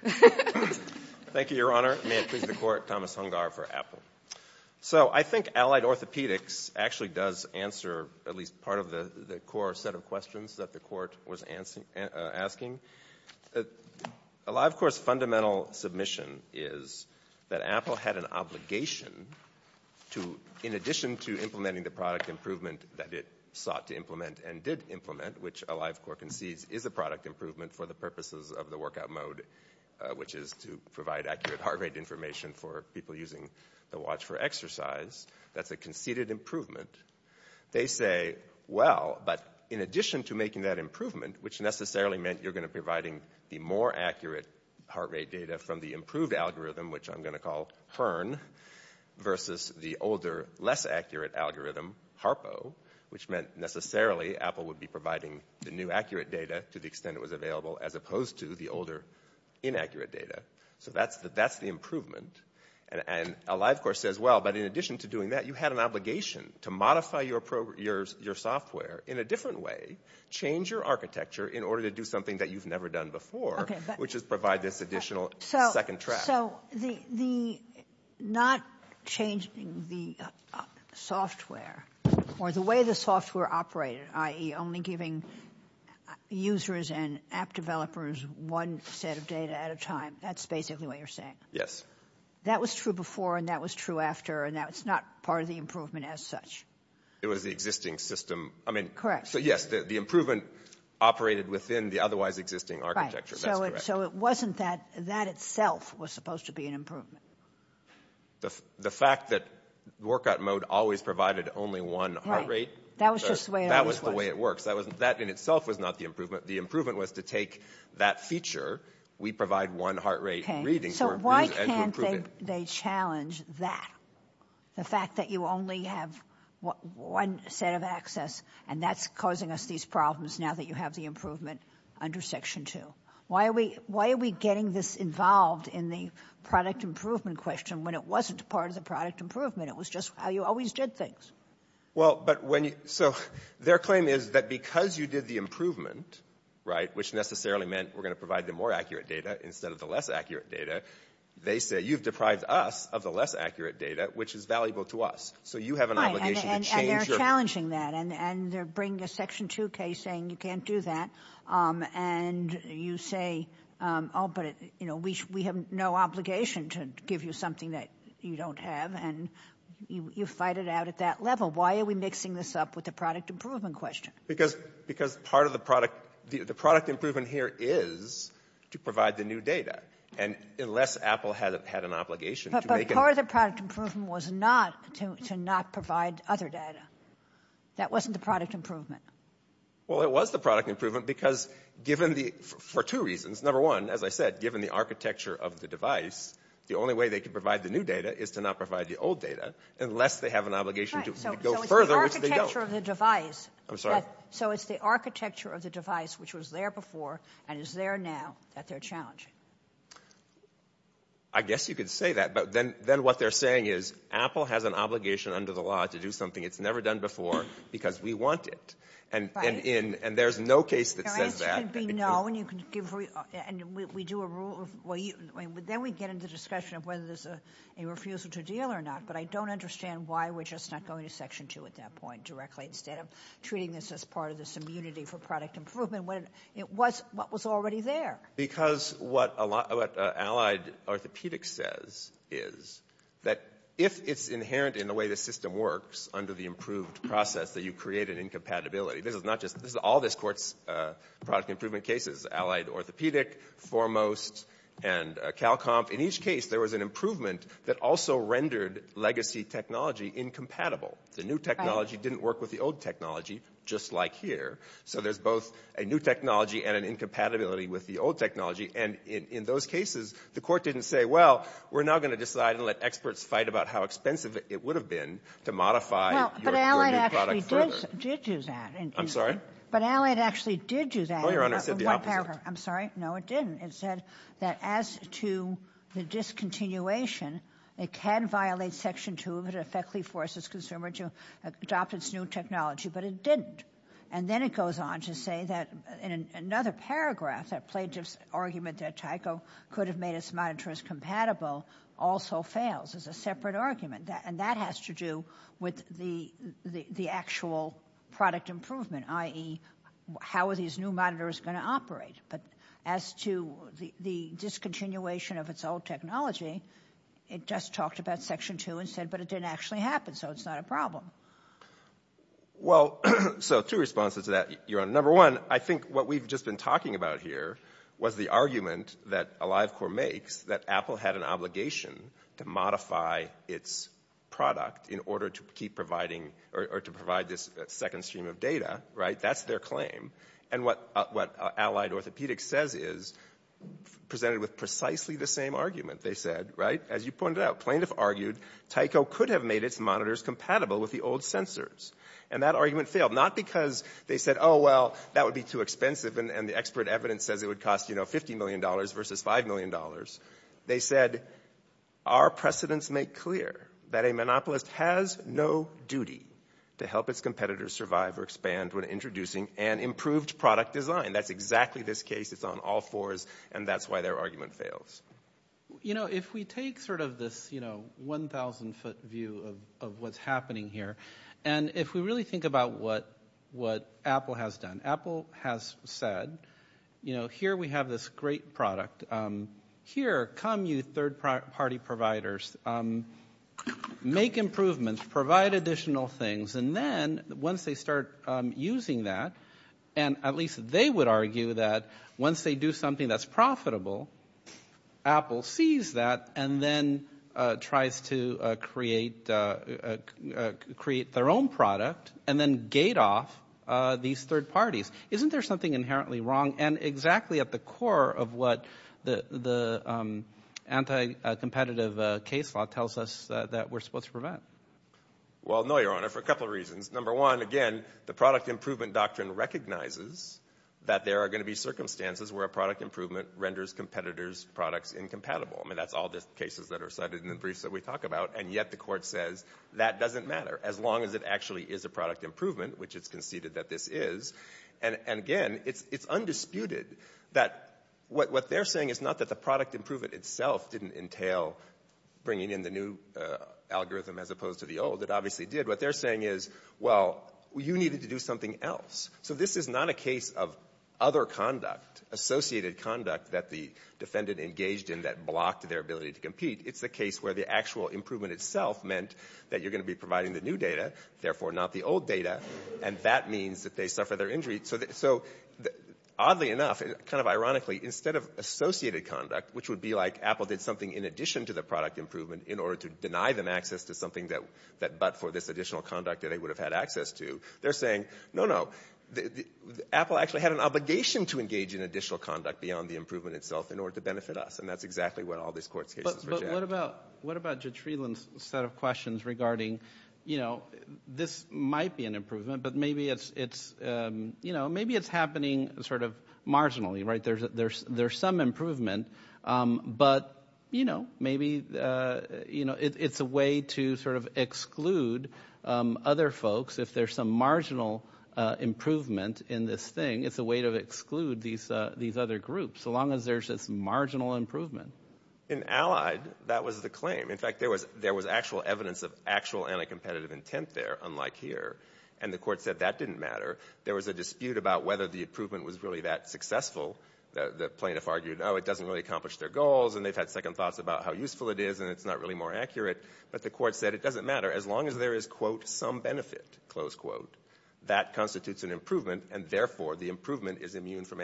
Thank you, Your Honor. May it please the Court, Thomas Hungar for Apple. So I think allied orthopedics actually does answer at least part of the core set of questions that the Court was asking. A live court's fundamental submission is that Apple had an obligation to, in addition to implementing the product improvement that it sought to implement and did implement, which a live court concedes is a product improvement for the purposes of the workout mode, which is to provide accurate heart rate information for people using the watch for exercise, that's a conceded improvement. They say, well, but in addition to making that improvement, which necessarily meant you're going to be providing the more accurate heart rate data from the improved algorithm, which I'm going to call HERN, versus the older, less accurate algorithm, HARPO, which meant necessarily Apple would be providing the new accurate data to the extent it was available, as opposed to the older inaccurate data. So that's the improvement. And a live court says, well, but in addition to doing that, you had an obligation to modify your software in a different way, change your architecture in order to do something that you've never done before, which is provide this additional second track. So not changing the software or the way the software operated, i.e. only giving users and app developers one set of data at a time, that's basically what you're saying? Yes. That was true before and that was true after, and that's not part of the improvement as such? It was the existing system. Correct. So, yes, the improvement operated within the otherwise existing architecture. So it wasn't that. That itself was supposed to be an improvement. The fact that workout mode always provided only one heart rate. Right. That was just the way it was. That was the way it worked. That in itself was not the improvement. The improvement was to take that feature. We provide one heart rate reading. So why can't they challenge that? The fact that you only have one set of access, and that's causing us these problems now that you have the improvement under Section 2. Why are we getting this involved in the product improvement question when it wasn't part of the product improvement? It was just how you always did things. Well, so their claim is that because you did the improvement, right, which necessarily meant we're going to provide the more accurate data instead of the less accurate data, they say you've deprived us of the less accurate data, which is valuable to us. So you have an obligation to change. Right, and they're challenging that. And they're bringing a Section 2 case saying you can't do that. And you say, oh, but, you know, we have no obligation to give you something that you don't have. And you fight it out at that level. Why are we mixing this up with the product improvement question? Because part of the product improvement here is to provide the new data. And unless Apple had an obligation to make it – But part of the product improvement was not to not provide other data. That wasn't the product improvement. Well, it was the product improvement because given the – for two reasons. Number one, as I said, given the architecture of the device, the only way they can provide the new data is to not provide the old data, unless they have an obligation to go further, which they don't. So it's the architecture of the device – I'm sorry? So it's the architecture of the device, which was there before and is there now that they're challenging. I guess you could say that. But then what they're saying is, Apple has an obligation under the law to do something it's never done before because we want it. And there's no case that says that. The answer should be no. And we do a rule – but then we get into the discussion of whether there's a refusal to deal or not. But I don't understand why we're just not going to Section 2 at that point directly instead of treating this as part of this immunity for product improvement. It was what was already there. Because what Allied Orthopedics says is that if it's inherent in the way the system works under the improved process that you created in compatibility – this is all this court's product improvement cases, Allied Orthopedic, Foremost, and CalComp. In each case, there was an improvement that also rendered legacy technology incompatible. The new technology didn't work with the old technology, just like here. So there's both a new technology and an incompatibility with the old technology. And in those cases, the court didn't say, well, we're now going to decide and let experts fight about how expensive it would have been to modify your new product further. But Allied actually did do that. I'm sorry? But Allied actually did do that. No, Your Honor. I'm sorry. No, it didn't. It said that as to the discontinuation, it can violate Section 2 if it effectively forces a consumer to adopt its new technology. But it didn't. And then it goes on to say that in another paragraph, that plaintiff's argument that Tyco could have made its monitors compatible also fails. It's a separate argument. And that has to do with the actual product improvement, i.e., how are these new monitors going to operate? But as to the discontinuation of its old technology, it just talked about Section 2 and said, but it didn't actually happen, so it's not a problem. Well, so two responses to that, Your Honor. Number one, I think what we've just been talking about here was the argument that Allied Corp makes that Apple had an obligation to modify its product in order to keep providing or to provide this second stream of data, right? That's their claim. And what Allied Orthopedics says is presented with precisely the same argument, they said, right? As you pointed out, plaintiff argued Tyco could have made its monitors compatible with the old sensors. And that argument failed, not because they said, oh, well, that would be too expensive, and the expert evidence says it would cost $50 million versus $5 million. They said, our precedents make clear that a monopolist has no duty to help its competitors survive or expand when introducing an improved product design. That's exactly this case. It's on all fours. And that's why their argument fails. You know, if we take sort of this, you know, 1,000-foot view of what's happening here, and if we really think about what Apple has done. Apple has said, you know, here we have this great product. Here come you third-party providers. Make improvements. Provide additional things. And then once they start using that, and at least they would argue that once they do something that's profitable, Apple sees that and then tries to create their own product and then gate off these third parties. Isn't there something inherently wrong? And exactly at the core of what the anti-competitive case law tells us that we're supposed to prevent. Well, no, Your Honor, for a couple of reasons. Number one, again, the product improvement doctrine recognizes that there are going to be circumstances where a product improvement renders competitors' products incompatible. I mean, that's all the cases that are cited in the briefs that we talk about, and yet the court says that doesn't matter as long as it actually is a product improvement, which it's conceded that this is. And again, it's undisputed that what they're saying is not that the product improvement itself didn't entail bringing in the new algorithm as opposed to the old. It obviously did. What they're saying is, well, you needed to do something else. So this is not a case of other conduct, associated conduct, that the defendant engaged in that blocked their ability to compete. It's a case where the actual improvement itself meant that you're going to be providing the new data, therefore not the old data, and that means that they suffer their injuries. So oddly enough, kind of ironically, instead of associated conduct, which would be like Apple did something in addition to the product improvement in order to deny them access to something but for this additional conduct that they would have had access to, they're saying, no, no, Apple actually had an obligation to engage in additional conduct beyond the improvement itself in order to benefit us. And that's exactly what all these court cases are about. But what about Jitreeland's set of questions regarding, you know, this might be an improvement, but maybe it's happening sort of marginally, right? There's some improvement, but, you know, maybe it's a way to sort of exclude other folks if there's some marginal improvement in this thing. It's a way to exclude these other groups, so long as there's this marginal improvement. In Allied, that was the claim. In fact, there was actual evidence of actual anti-competitive intent there, unlike here. And the court said that didn't matter. There was a dispute about whether the improvement was really that successful. The plaintiff argued, oh, it doesn't really accomplish their goals, and they've had second thoughts about how useful it is and it's not really more accurate. But the court said it doesn't matter as long as there is, quote, some benefit, close quote. That constitutes an improvement, and, therefore, the improvement is immune from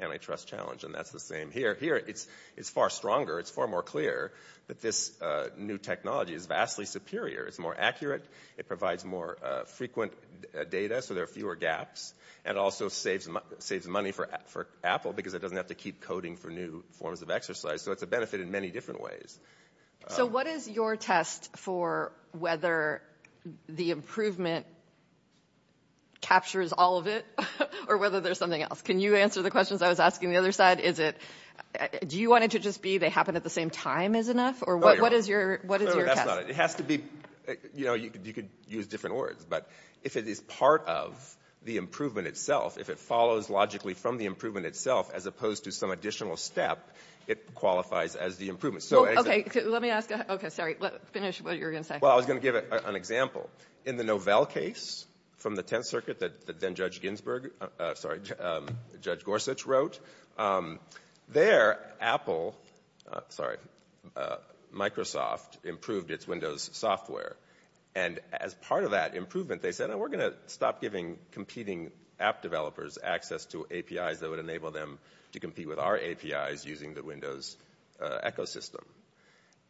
antitrust challenge. And that's the same here. Here, it's far stronger. It's far more clear that this new technology is vastly superior. It's more accurate. It provides more frequent data, so there are fewer gaps. And it also saves money for Apple because it doesn't have to keep coding for new forms of exercise. So it's a benefit in many different ways. So what is your test for whether the improvement captures all of it or whether there's something else? Can you answer the questions I was asking the other side? Is it do you want it to just be they happen at the same time is enough? Or what is your test? It has to be, you know, you could use different words. But if it is part of the improvement itself, if it follows logically from the improvement itself, as opposed to some additional step, it qualifies as the improvement. Okay. Let me ask that. Okay. Sorry. Finish what you were going to say. Well, I was going to give an example. In the Novell case from the Tenth Circuit that then-Judge Gorsuch wrote, there, Microsoft improved its Windows software. And as part of that improvement, they said, we're going to stop giving competing app developers access to APIs that would enable them to compete with our APIs using the Windows ecosystem.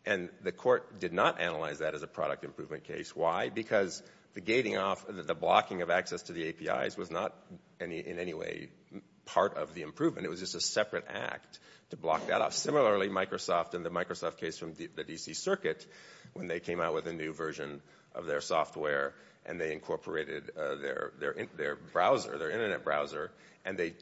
And the court did not analyze that as a product improvement case. Why? Because the gating off, the blocking of access to the APIs was not in any way part of the improvement. It was just a separate act to block that off. Similarly, Microsoft in the Microsoft case from the D.C. Circuit, when they came out with a new version of their software and they incorporated their browser, their Internet browser, and they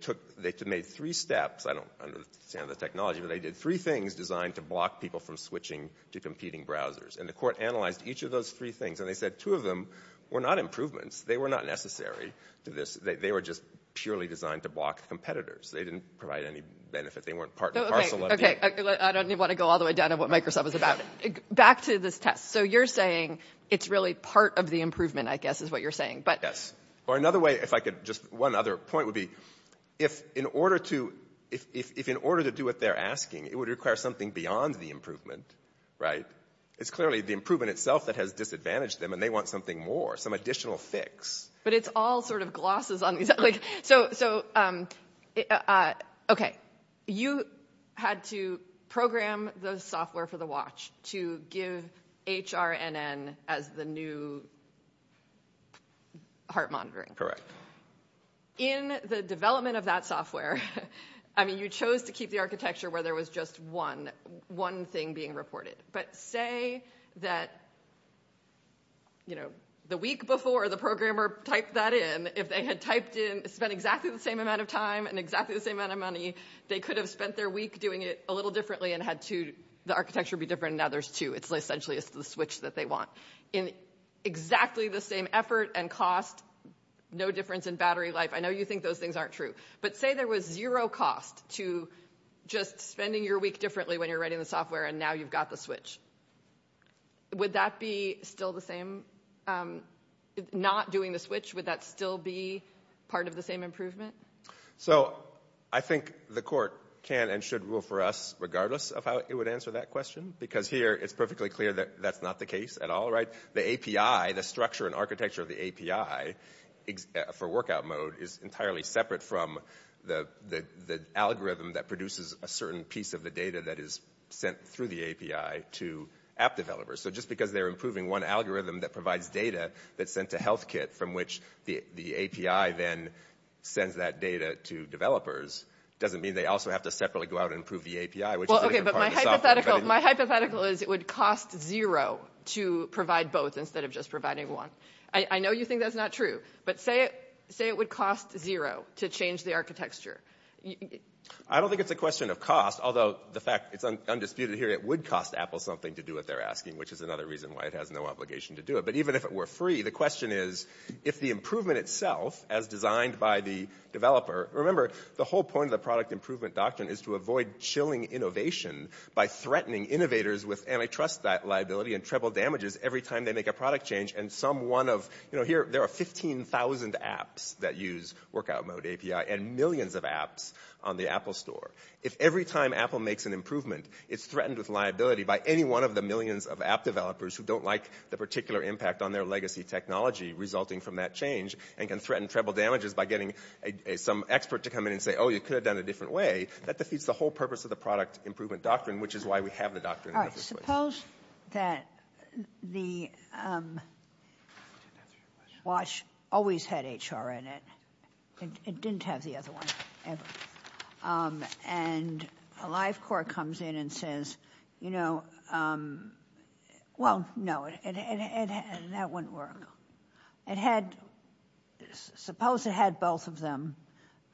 made three steps. I don't understand the technology, but they did three things designed to block people from switching to competing browsers. And the court analyzed each of those three things, and they said two of them were not improvements. They were not necessary. They were just purely designed to block competitors. They didn't provide any benefit. They weren't part and parcel of the- I don't want to go all the way down to what Microsoft was about. Back to this test. So you're saying it's really part of the improvement, I guess, is what you're saying. Yes. Or another way, if I could, just one other point would be, if in order to do what they're asking, it would require something beyond the improvement, right? It's clearly the improvement itself that has disadvantaged them, and they want something more, some additional fix. But it's all sort of glosses on the- So, okay. You had to program the software for the watch to give HRNN as the new heart monitoring. In the development of that software, I mean, you chose to keep the architecture where there was just one thing being reported. But say that, you know, the week before the programmer typed that in, if they had typed in-spent exactly the same amount of time and exactly the same amount of money, they could have spent their week doing it a little differently and had to-the architecture would be different. Now there's two. It's essentially the switch that they want. In exactly the same effort and cost, no difference in battery life. I know you think those things aren't true. But say there was zero cost to just spending your week differently when you're writing the software, and now you've got the switch. Would that be still the same? Not doing the switch, would that still be part of the same improvement? So I think the court can and should rule for us regardless of how it would answer that question, because here it's perfectly clear that that's not the case at all, right? The API, the structure and architecture of the API for workout mode, is entirely separate from the algorithm that produces a certain piece of the data that is sent through the API to app developers. So just because they're improving one algorithm that provides data that's sent to HealthKit, from which the API then sends that data to developers, doesn't mean they also have to separately go out and improve the API, which- Well, okay, but my hypothetical is it would cost zero to provide both instead of just providing one. I know you think that's not true. But say it would cost zero to change the architecture. I don't think it's a question of cost, although the fact it's undisputed here, it would cost Apple something to do what they're asking, which is another reason why it has no obligation to do it. But even if it were free, the question is, if the improvement itself, as designed by the developer- Remember, the whole point of the product improvement doctrine is to avoid chilling innovation by threatening innovators with antitrust liability and triple damages every time they make a product change, and some one of- You know, there are 15,000 apps that use Workout Mode API and millions of apps on the Apple Store. If every time Apple makes an improvement, it's threatened with liability by any one of the millions of app developers who don't like the particular impact on their legacy technology resulting from that change, and can threaten triple damages by getting some expert to come in and say, oh, you could have done it a different way, that defeats the whole purpose of the product improvement doctrine, which is why we have the doctrine. All right, suppose that the watch always had HR in it. It didn't have the other one, ever. And AliveCore comes in and says, you know- Well, no, and that wouldn't work. It had- Suppose it had both of them,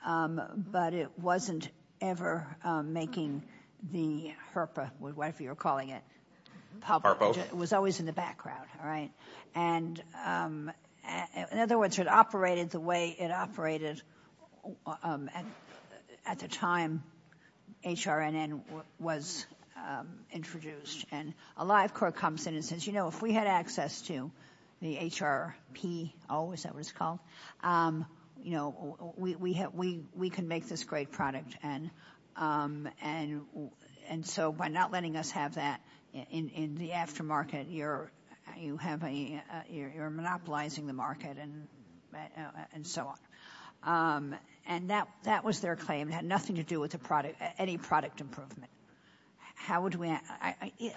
but it wasn't ever making the HRPA, whatever you're calling it, public. It was always in the background, all right? And in other words, it operated the way it operated at the time HRNN was introduced. And AliveCore comes in and says, you know, if we had access to the HRPO, oh, is that what it's called? You know, we can make this great product. And so by not letting us have that in the aftermarket, you're monopolizing the market and so on. And that was their claim. It had nothing to do with any product improvement. How would we-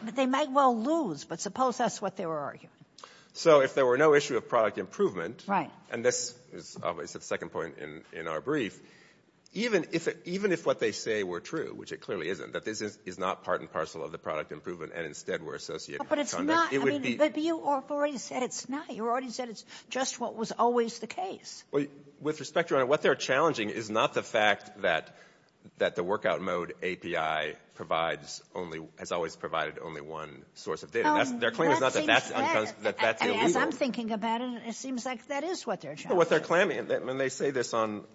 They might well lose, but suppose that's what they were arguing. So if there were no issue of product improvement, and this is obviously the second point in our brief, even if what they say were true, which it clearly isn't, that this is not part and parcel of the product improvement and instead were associated with- But you already said it's not. You already said it's just what was always the case. With respect to what they're challenging is not the fact that the workout mode API has always provided only one source of data. Their claim is not that that's the leader. As I'm thinking about it, it seems like that is what they're challenging. Well, what they're claiming, and they say this on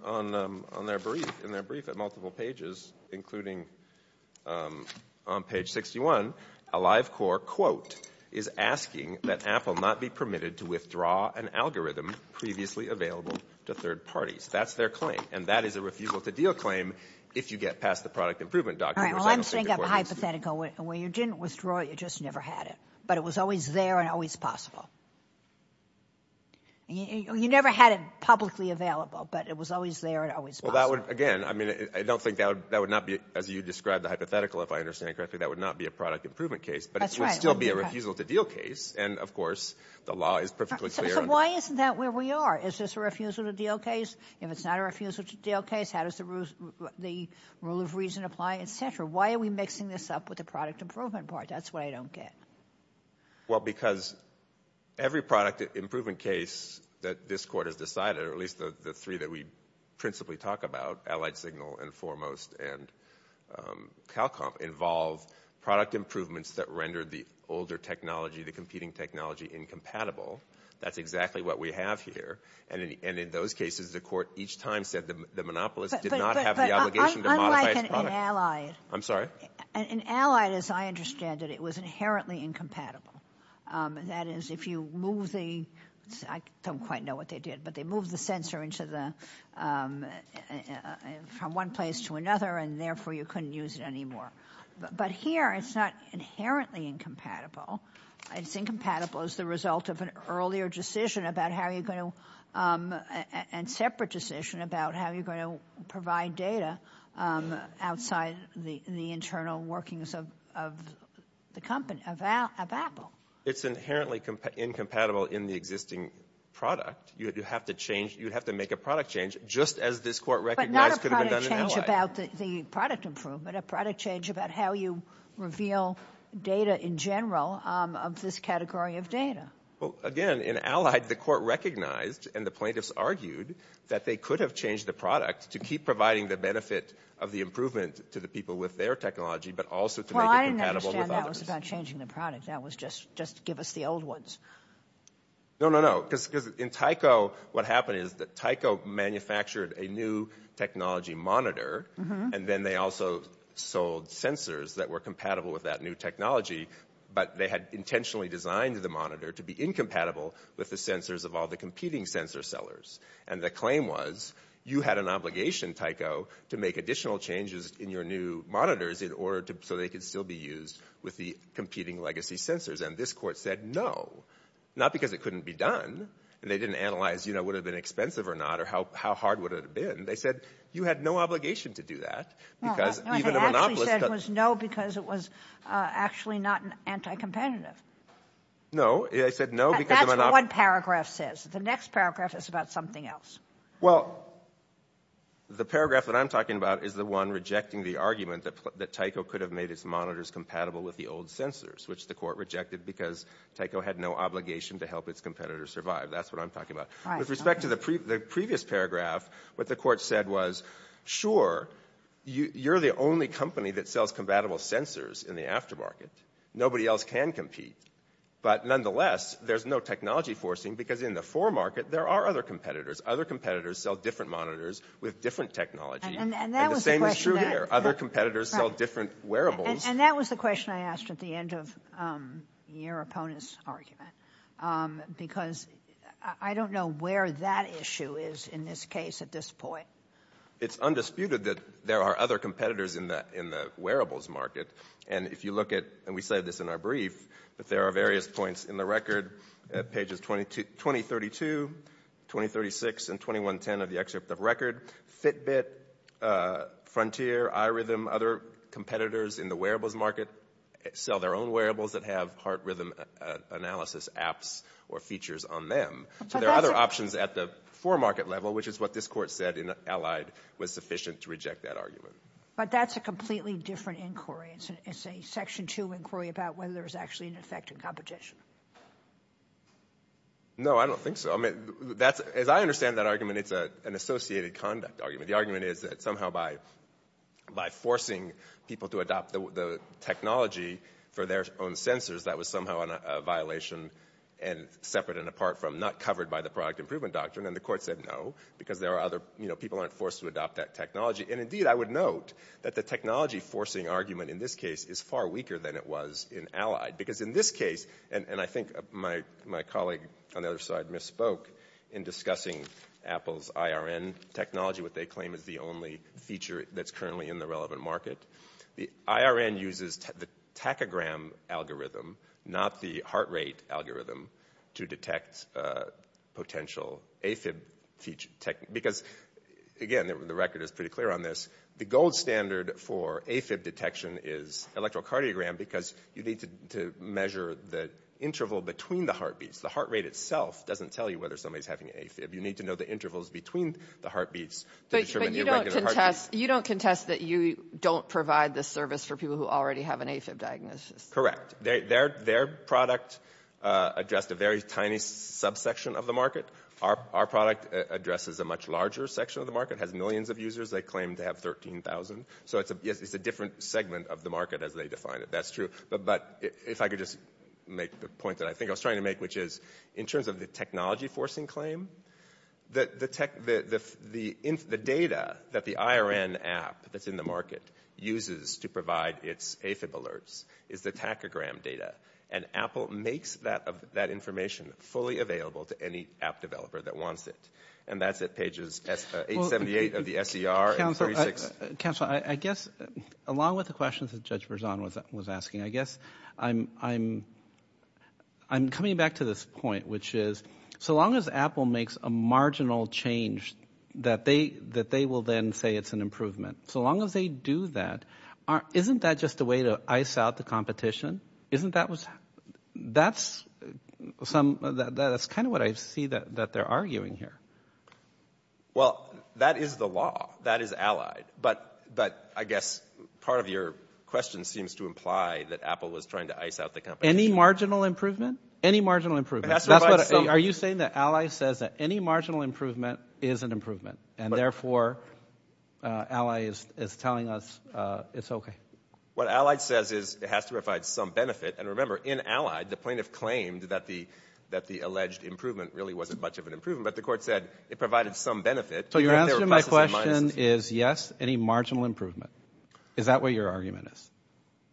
their brief, in their brief on multiple pages, including on page 61, a live core quote is asking that Apple not be permitted to withdraw an algorithm previously available to third parties. That's their claim, and that is a refusal to deal claim if you get past the product improvement document. All right, well, I'm saying a hypothetical. When you didn't withdraw it, you just never had it, but it was always there and always possible. You never had it publicly available, but it was always there and always possible. Again, I don't think that would not be, as you described the hypothetical, if I understand correctly, that would not be a product improvement case, but it would still be a refusal to deal case, and, of course, the law is perfectly clear on that. Why isn't that where we are? Is this a refusal to deal case? If it's not a refusal to deal case, how does the rule of reason apply, et cetera? Why are we mixing this up with the product improvement part? That's what I don't get. Well, because every product improvement case that this Court has decided, or at least the three that we principally talk about, Allied Signal and Foremost and CalComp, involve product improvements that render the older technology, the competing technology, incompatible. That's exactly what we have here. And in those cases, the Court each time said the monopolist did not have the obligation Unlike in Allied. I'm sorry? In Allied, as I understand it, it was inherently incompatible. That is, if you move the – I don't quite know what they did, but they moved the sensor from one place to another, and therefore you couldn't use it anymore. But here it's not inherently incompatible. It's incompatible as the result of an earlier decision about how you're going to – outside the internal workings of the company, of Apple. It's inherently incompatible in the existing product. You have to change – you have to make a product change, just as this Court recognized could have been done in Allied. But not a product change about the product improvement, a product change about how you reveal data in general of this category of data. Well, again, in Allied, the Court recognized and the plaintiffs argued that they could have changed the product to keep providing the benefit of the improvement to the people with their technology, but also to make it compatible with others. Well, I understand that was about changing the product. That was just give us the old ones. No, no, no. Because in Tyco, what happened is that Tyco manufactured a new technology monitor, and then they also sold sensors that were compatible with that new technology, but they had intentionally designed the monitor to be incompatible with the sensors of all the competing sensor sellers. And the claim was you had an obligation, Tyco, to make additional changes in your new monitors in order to – so they could still be used with the competing legacy sensors. And this Court said no, not because it couldn't be done. They didn't analyze, you know, would it have been expensive or not, or how hard would it have been. They said you had no obligation to do that because even a monopolist – No, what they actually said was no because it was actually not anti-competitive. No, they said no because – That's what one paragraph says. The next paragraph is about something else. Well, the paragraph that I'm talking about is the one rejecting the argument that Tyco could have made its monitors compatible with the old sensors, which the Court rejected because Tyco had no obligation to help its competitors survive. That's what I'm talking about. With respect to the previous paragraph, what the Court said was, sure, you're the only company that sells compatible sensors in the aftermarket. Nobody else can compete. But nonetheless, there's no technology forcing because in the foremarket, there are other competitors. Other competitors sell different monitors with different technology. And the same is true here. Other competitors sell different wearables. And that was the question I asked at the end of your opponent's argument because I don't know where that issue is in this case at this point. It's undisputed that there are other competitors in the wearables market. And if you look at, and we said this in our brief, that there are various points in the record at pages 2032, 2036, and 2110 of the excerpt of record, Fitbit, Frontier, iRhythm, other competitors in the wearables market sell their own wearables that have heart rhythm analysis apps or features on them. So there are other options at the foremarket level, which is what this Court said in Allied was sufficient to reject that argument. But that's a completely different inquiry. It's a Section 2 inquiry about whether there's actually an effect in competition. No, I don't think so. As I understand that argument, it's an associated conduct argument. The argument is that somehow by forcing people to adopt the technology for their own sensors, that was somehow a violation and separate and apart from not covered by the product improvement doctrine. And the Court said no because people aren't forced to adopt that technology. And indeed, I would note that the technology-forcing argument in this case is far weaker than it was in Allied. Because in this case, and I think my colleague on the other side misspoke in discussing Apple's IRN technology, what they claim is the only feature that's currently in the relevant market. The IRN uses the tachogram algorithm, not the heart rate algorithm, to detect potential AFib feature. Because, again, the record is pretty clear on this, the gold standard for AFib detection is electrocardiogram because you need to measure the interval between the heartbeats. The heart rate itself doesn't tell you whether somebody's having AFib. You need to know the intervals between the heartbeats. But you don't contest that you don't provide this service for people who already have an AFib diagnosis. Correct. Their product addressed a very tiny subsection of the market. Our product addresses a much larger section of the market. It has millions of users. They claim to have 13,000. So it's a different segment of the market as they define it. That's true. But if I could just make the point that I think I was trying to make, which is in terms of the technology-forcing claim, the data that the IRN app that's in the market uses to provide its AFib alerts is the tachogram data. And Apple makes that information fully available to any app developer that wants it. And that's at pages 878 of the SDR. Counselor, I guess along with the questions that Judge Berzon was asking, I guess I'm coming back to this point, which is so long as Apple makes a marginal change, that they will then say it's an improvement. So long as they do that, isn't that just a way to ice out the competition? That's kind of what I see that they're arguing here. Well, that is the law. That is Allied. But I guess part of your question seems to imply that Apple was trying to ice out the company. Any marginal improvement? Any marginal improvement. Are you saying that Allied says that any marginal improvement is an improvement, and therefore Allied is telling us it's okay? What Allied says is it has to provide some benefit. And remember, in Allied, the plaintiff claimed that the alleged improvement really wasn't much of an improvement. But the court said it provided some benefit. So your answer to my question is yes, any marginal improvement. Is that what your argument is?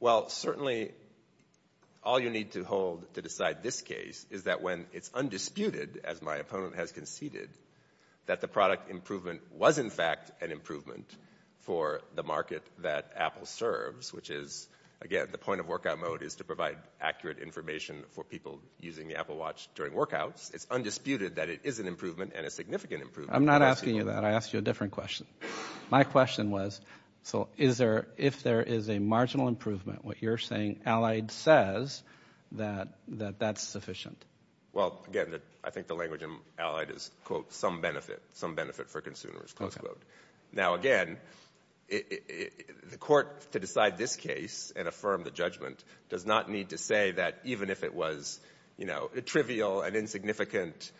Well, certainly all you need to hold to decide this case is that when it's undisputed, as my opponent has conceded, that the product improvement was in fact an improvement for the market that Apple serves, which is, again, the point of workout mode is to provide accurate information for people using the Apple Watch during workouts. It's undisputed that it is an improvement and a significant improvement. I'm not asking you that. I asked you a different question. My question was, so if there is a marginal improvement, what you're saying Allied says that that's sufficient. Well, again, I think the language in Allied is, quote, some benefit. Some benefit for consumers, close quote. Now, again, the court, to decide this case and affirm the judgment, does not need to say that even if it was trivial and insignificant,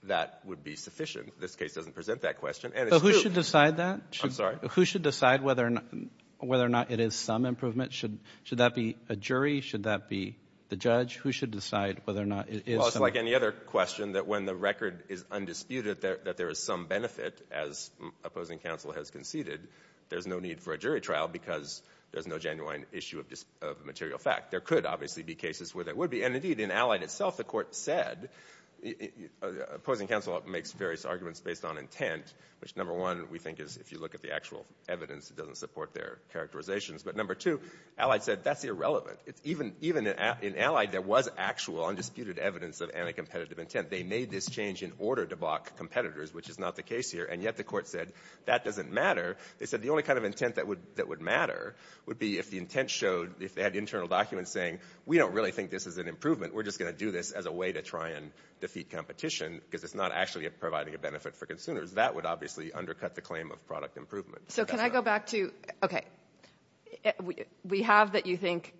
that would be sufficient. This case doesn't present that question. So who should decide that? I'm sorry? Who should decide whether or not it is some improvement? Should that be a jury? Should that be the judge? Who should decide whether or not it is some improvement? Well, it's like any other question that when the record is undisputed that there is some benefit, as opposing counsel has conceded, there's no need for a jury trial because there's no genuine issue of material fact. There could obviously be cases where there would be. And, indeed, in Allied itself, the court said, opposing counsel makes various arguments based on intent, which, number one, we think is if you look at the actual evidence, it doesn't support their characterizations. But, number two, Allied said that's irrelevant. Even in Allied, there was actual, undisputed evidence of anti-competitive intent. They made this change in order to block competitors, which is not the case here, and yet the court said that doesn't matter. They said the only kind of intent that would matter would be if the intent showed, if they had internal documents saying, we don't really think this is an improvement. We're just going to do this as a way to try and defeat competition because it's not actually providing a benefit for consumers. That would obviously undercut the claim of product improvement. So can I go back to, okay, we have that you think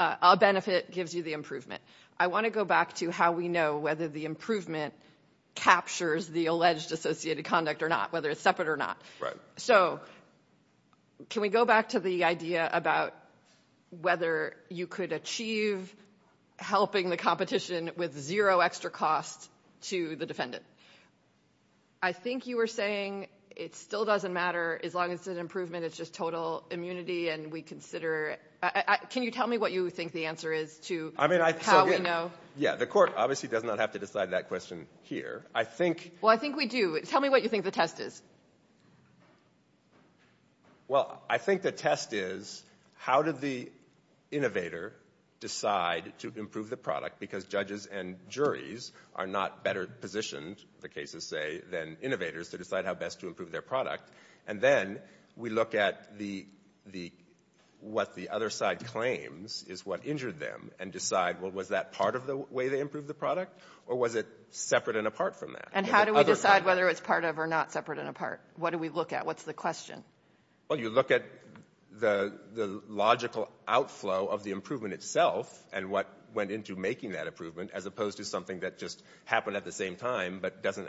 a benefit gives you the improvement. I want to go back to how we know whether the improvement captures the alleged associated conduct or not, whether it's separate or not. Right. So can we go back to the idea about whether you could achieve helping the competition with zero extra cost to the defendant? I think you were saying it still doesn't matter as long as there's improvement. It's just total immunity and we consider it. Can you tell me what you think the answer is to how we know? Yeah, the court obviously does not have to decide that question here. Well, I think we do. Tell me what you think the test is. Well, I think the test is how did the innovator decide to improve the product because judges and juries are not better positioned, the cases say, than innovators to decide how best to improve their product. And then we look at what the other side claims is what injured them and decide, well, was that part of the way to improve the product or was it separate and apart from that? And how do we decide whether it's part of or not separate and apart? What do we look at? What's the question? Well, you look at the logical outflow of the improvement itself and what went into making that improvement as opposed to something that just happened at the same time but isn't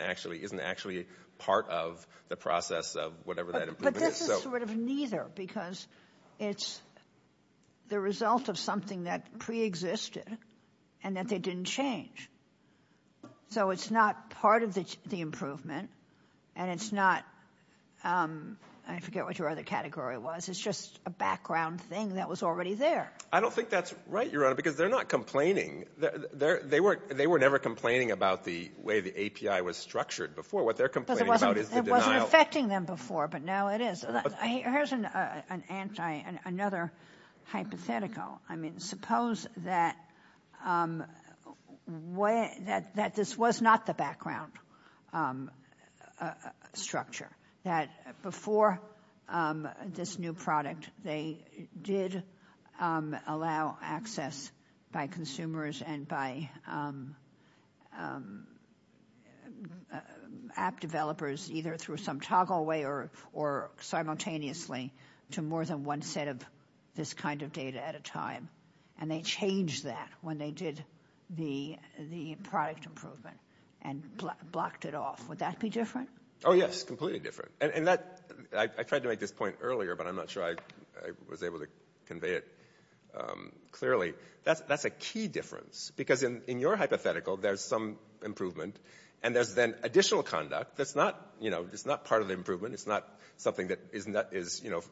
actually part of the process of whatever that improvement is. But this is sort of neither because it's the result of something that preexisted and that they didn't change. So it's not part of the improvement and it's not – I forget what your other category was – it's just a background thing that was already there. I don't think that's right, Your Honor, because they're not complaining. They were never complaining about the way the API was structured before. What they're complaining about is the denial. It wasn't affecting them before, but now it is. Here's another hypothetical. I mean, suppose that this was not the background structure, that before this new product, they did allow access by consumers and by app developers either through some toggle way or simultaneously to more than one set of this kind of data at a time, and they changed that when they did the product improvement and blocked it off. Would that be different? Oh, yes, completely different. And I tried to make this point earlier, but I'm not sure I was able to convey it clearly. That's a key difference because in your hypothetical, there's some improvement and there's then additional conduct that's not part of the improvement. It's not something that is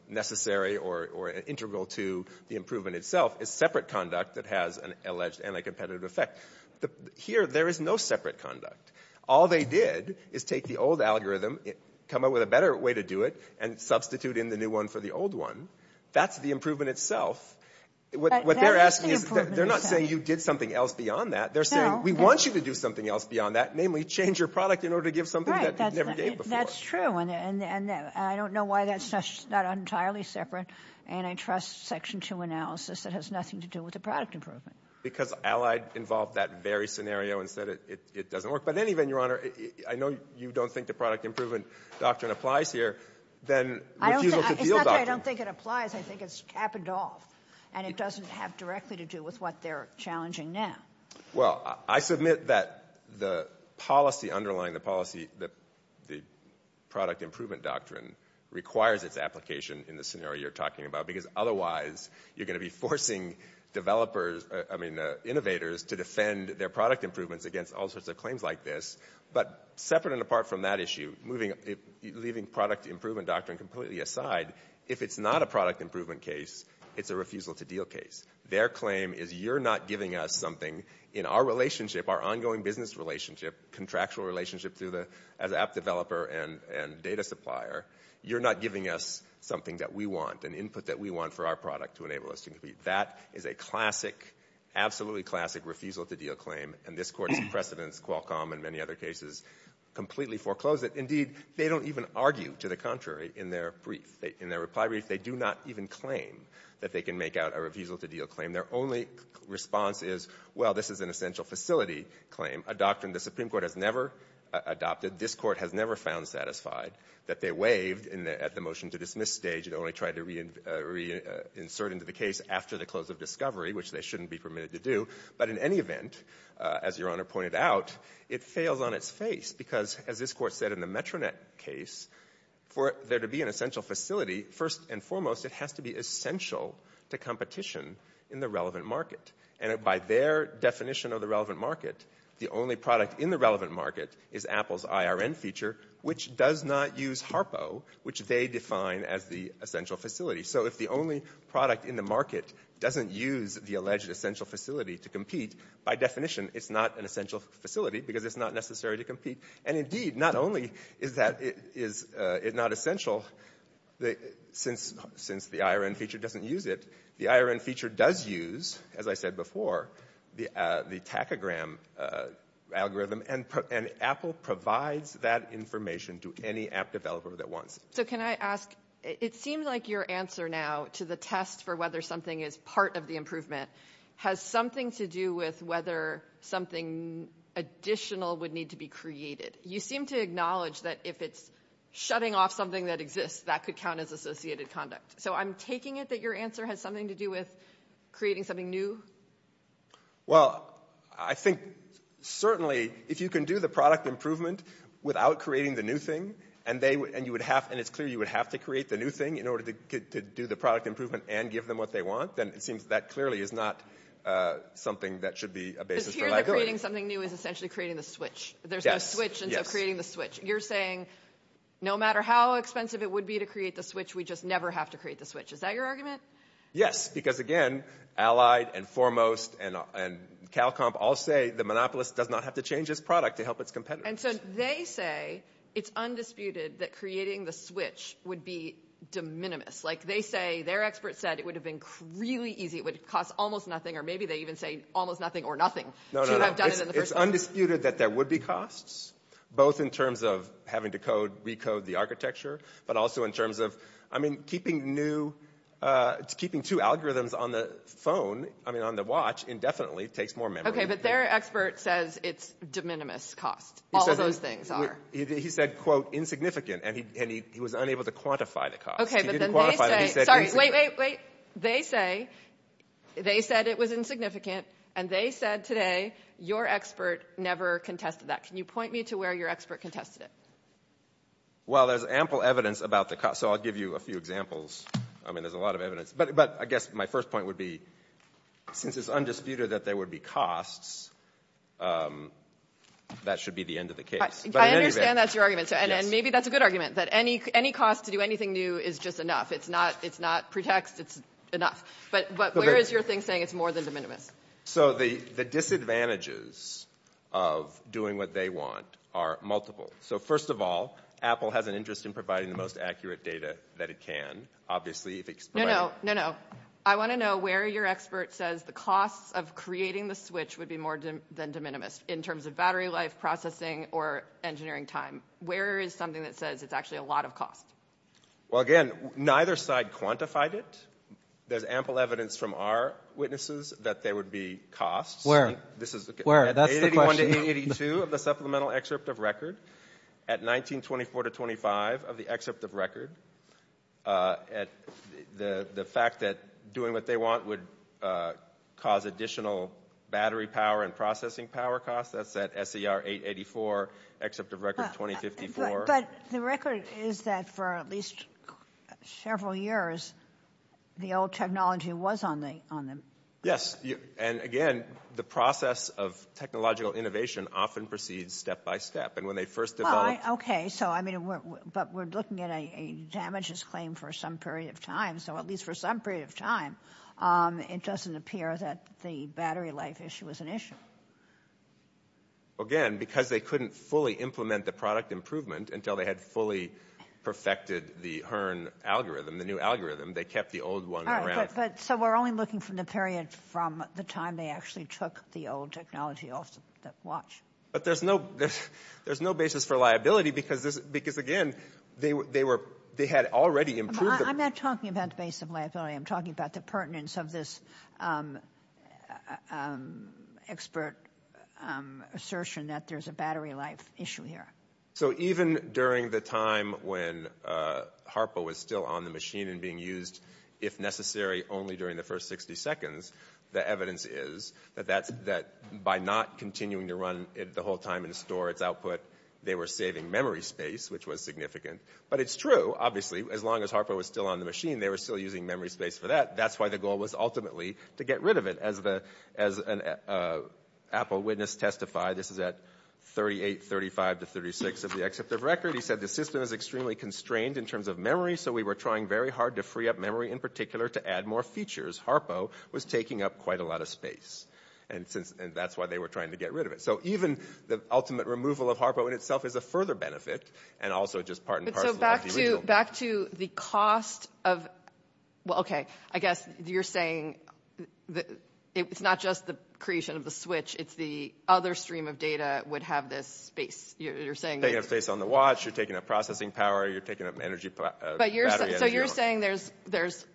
necessary or integral to the improvement itself. It's separate conduct that has an alleged anti-competitive effect. Here, there is no separate conduct. All they did is take the old algorithm, come up with a better way to do it, and substitute in the new one for the old one. That's the improvement itself. They're not saying you did something else beyond that. They're saying we want you to do something else beyond that, namely change your product in order to give something that you never gave before. That's true, and I don't know why that's not entirely separate, and I trust Section 2 analysis that has nothing to do with the product improvement. Because Allied involved that very scenario and said it doesn't work. But anyway, Your Honor, I know you don't think the product improvement doctrine applies here. It's not that I don't think it applies. I think it's capital, and it doesn't have directly to do with what they're challenging now. Well, I submit that the policy underlying the product improvement doctrine requires its application in the scenario you're talking about because otherwise you're going to be forcing innovators to defend their product improvements against all sorts of claims like this. But separate and apart from that issue, leaving product improvement doctrine completely aside, if it's not a product improvement case, it's a refusal-to-deal case. Their claim is you're not giving us something in our relationship, our ongoing business relationship, contractual relationship as app developer and data supplier. You're not giving us something that we want, an input that we want for our product to enable us. That is a classic, absolutely classic refusal-to-deal claim, and this Court in precedence, Qualcomm and many other cases, completely foreclosed it. Indeed, they don't even argue to the contrary in their reply brief. They do not even claim that they can make out a refusal-to-deal claim. Their only response is, well, this is an essential facility claim, a doctrine the Supreme Court has never adopted. This Court has never found satisfied that they waived at the motion-to-dismiss stage and only tried to reinsert into the case after the close of discovery, which they shouldn't be permitted to do. But in any event, as Your Honor pointed out, it fails on its face, because as this Court said in the Metronet case, for there to be an essential facility, first and foremost, it has to be essential to competition in the relevant market. And by their definition of the relevant market, the only product in the relevant market is Apple's IRN feature, which does not use HARPO, which they define as the essential facility. So if the only product in the market doesn't use the alleged essential facility to compete, by definition it's not an essential facility because it's not necessary to compete. And indeed, not only is it not essential since the IRN feature doesn't use it, the IRN feature does use, as I said before, the tachygram algorithm, and Apple provides that information to any app developer that wants it. So can I ask, it seems like your answer now to the test for whether something is part of the improvement has something to do with whether something additional would need to be created. You seem to acknowledge that if it's shutting off something that exists, that could count as associated conduct. So I'm taking it that your answer has something to do with creating something new? Well, I think certainly if you can do the product improvement without creating the new thing, and it's clear you would have to create the new thing in order to do the product improvement and give them what they want, then it seems that clearly is not something that should be a basis for liability. It appears that creating something new is essentially creating the switch. There's no switch, and so creating the switch. You're saying no matter how expensive it would be to create the switch, we just never have to create the switch. Is that your argument? Yes, because again, Allied and Foremost and CalComp all say the monopolist does not have to change its product to help its competitors. And so they say it's undisputed that creating the switch would be de minimis. Like they say, their expert said it would have been really easy. It would cost almost nothing, or maybe they even say almost nothing or nothing. No, no, no. It's undisputed that there would be costs, both in terms of having to recode the architecture, but also in terms of, I mean, keeping two algorithms on the phone, I mean, on the watch indefinitely takes more memory. Okay, but their expert says it's de minimis cost. All of those things are. He said, quote, insignificant, and he was unable to quantify the cost. Okay, but then they say, sorry, wait, wait, wait. They say it was insignificant, and they said today your expert never contested that. Can you point me to where your expert contested it? Well, there's ample evidence about the cost, so I'll give you a few examples. I mean, there's a lot of evidence. But I guess my first point would be, since it's undisputed that there would be costs, that should be the end of the case. I understand that's your argument, and maybe that's a good argument, that any cost to do anything new is just enough. It's not pretext. It's enough. But where is your thing saying it's more than de minimis? So the disadvantages of doing what they want are multiple. So first of all, Apple has an interest in providing the most accurate data that it can. No, no. I want to know where your expert says the cost of creating the switch would be more than de minimis in terms of battery life, processing, or engineering time. Where is something that says it's actually a lot of costs? Well, again, neither side quantified it. There's ample evidence from our witnesses that there would be costs. 881 to 882 of the supplemental excerpt of record. At 1924 to 1925 of the excerpt of record, the fact that doing what they want would cause additional battery power and processing power costs, that's at SER 884, excerpt of record 2054. But the record is that for at least several years, the old technology was on them. Yes. And, again, the process of technological innovation often proceeds step by step. And when they first developed – Okay. So, I mean, but we're looking at a damages claim for some period of time. So at least for some period of time, it doesn't appear that the battery life issue was an issue. Again, because they couldn't fully implement the product improvement until they had fully perfected the HERN algorithm, the new algorithm. They kept the old one around. So we're only looking for the period from the time they actually took the old technology off the watch. But there's no basis for liability because, again, they had already improved it. I'm not talking about the basis of liability. I'm talking about the pertinence of this expert assertion that there's a battery life issue here. So even during the time when Harpo was still on the machine and being used, if necessary, only during the first 60 seconds, the evidence is that by not continuing to run it the whole time and store its output, they were saving memory space, which was significant. But it's true, obviously. As long as Harpo was still on the machine, they were still using memory space for that. That's why the goal was ultimately to get rid of it. As an Apple witness testified, this is at 38, 35 to 36 of the excerpt of record, he said, the system is extremely constrained in terms of memory, so we were trying very hard to free up memory in particular to add more features. Harpo was taking up quite a lot of space, and that's why they were trying to get rid of it. So even the ultimate removal of Harpo in itself is a further benefit and also just part and parcel of the reason. Back to the cost of – well, okay, I guess you're saying it's not just the creation of the switch. It's the other stream of data would have this space. You're saying – You're taking up space on the watch. You're taking up processing power. You're taking up energy – So you're saying there's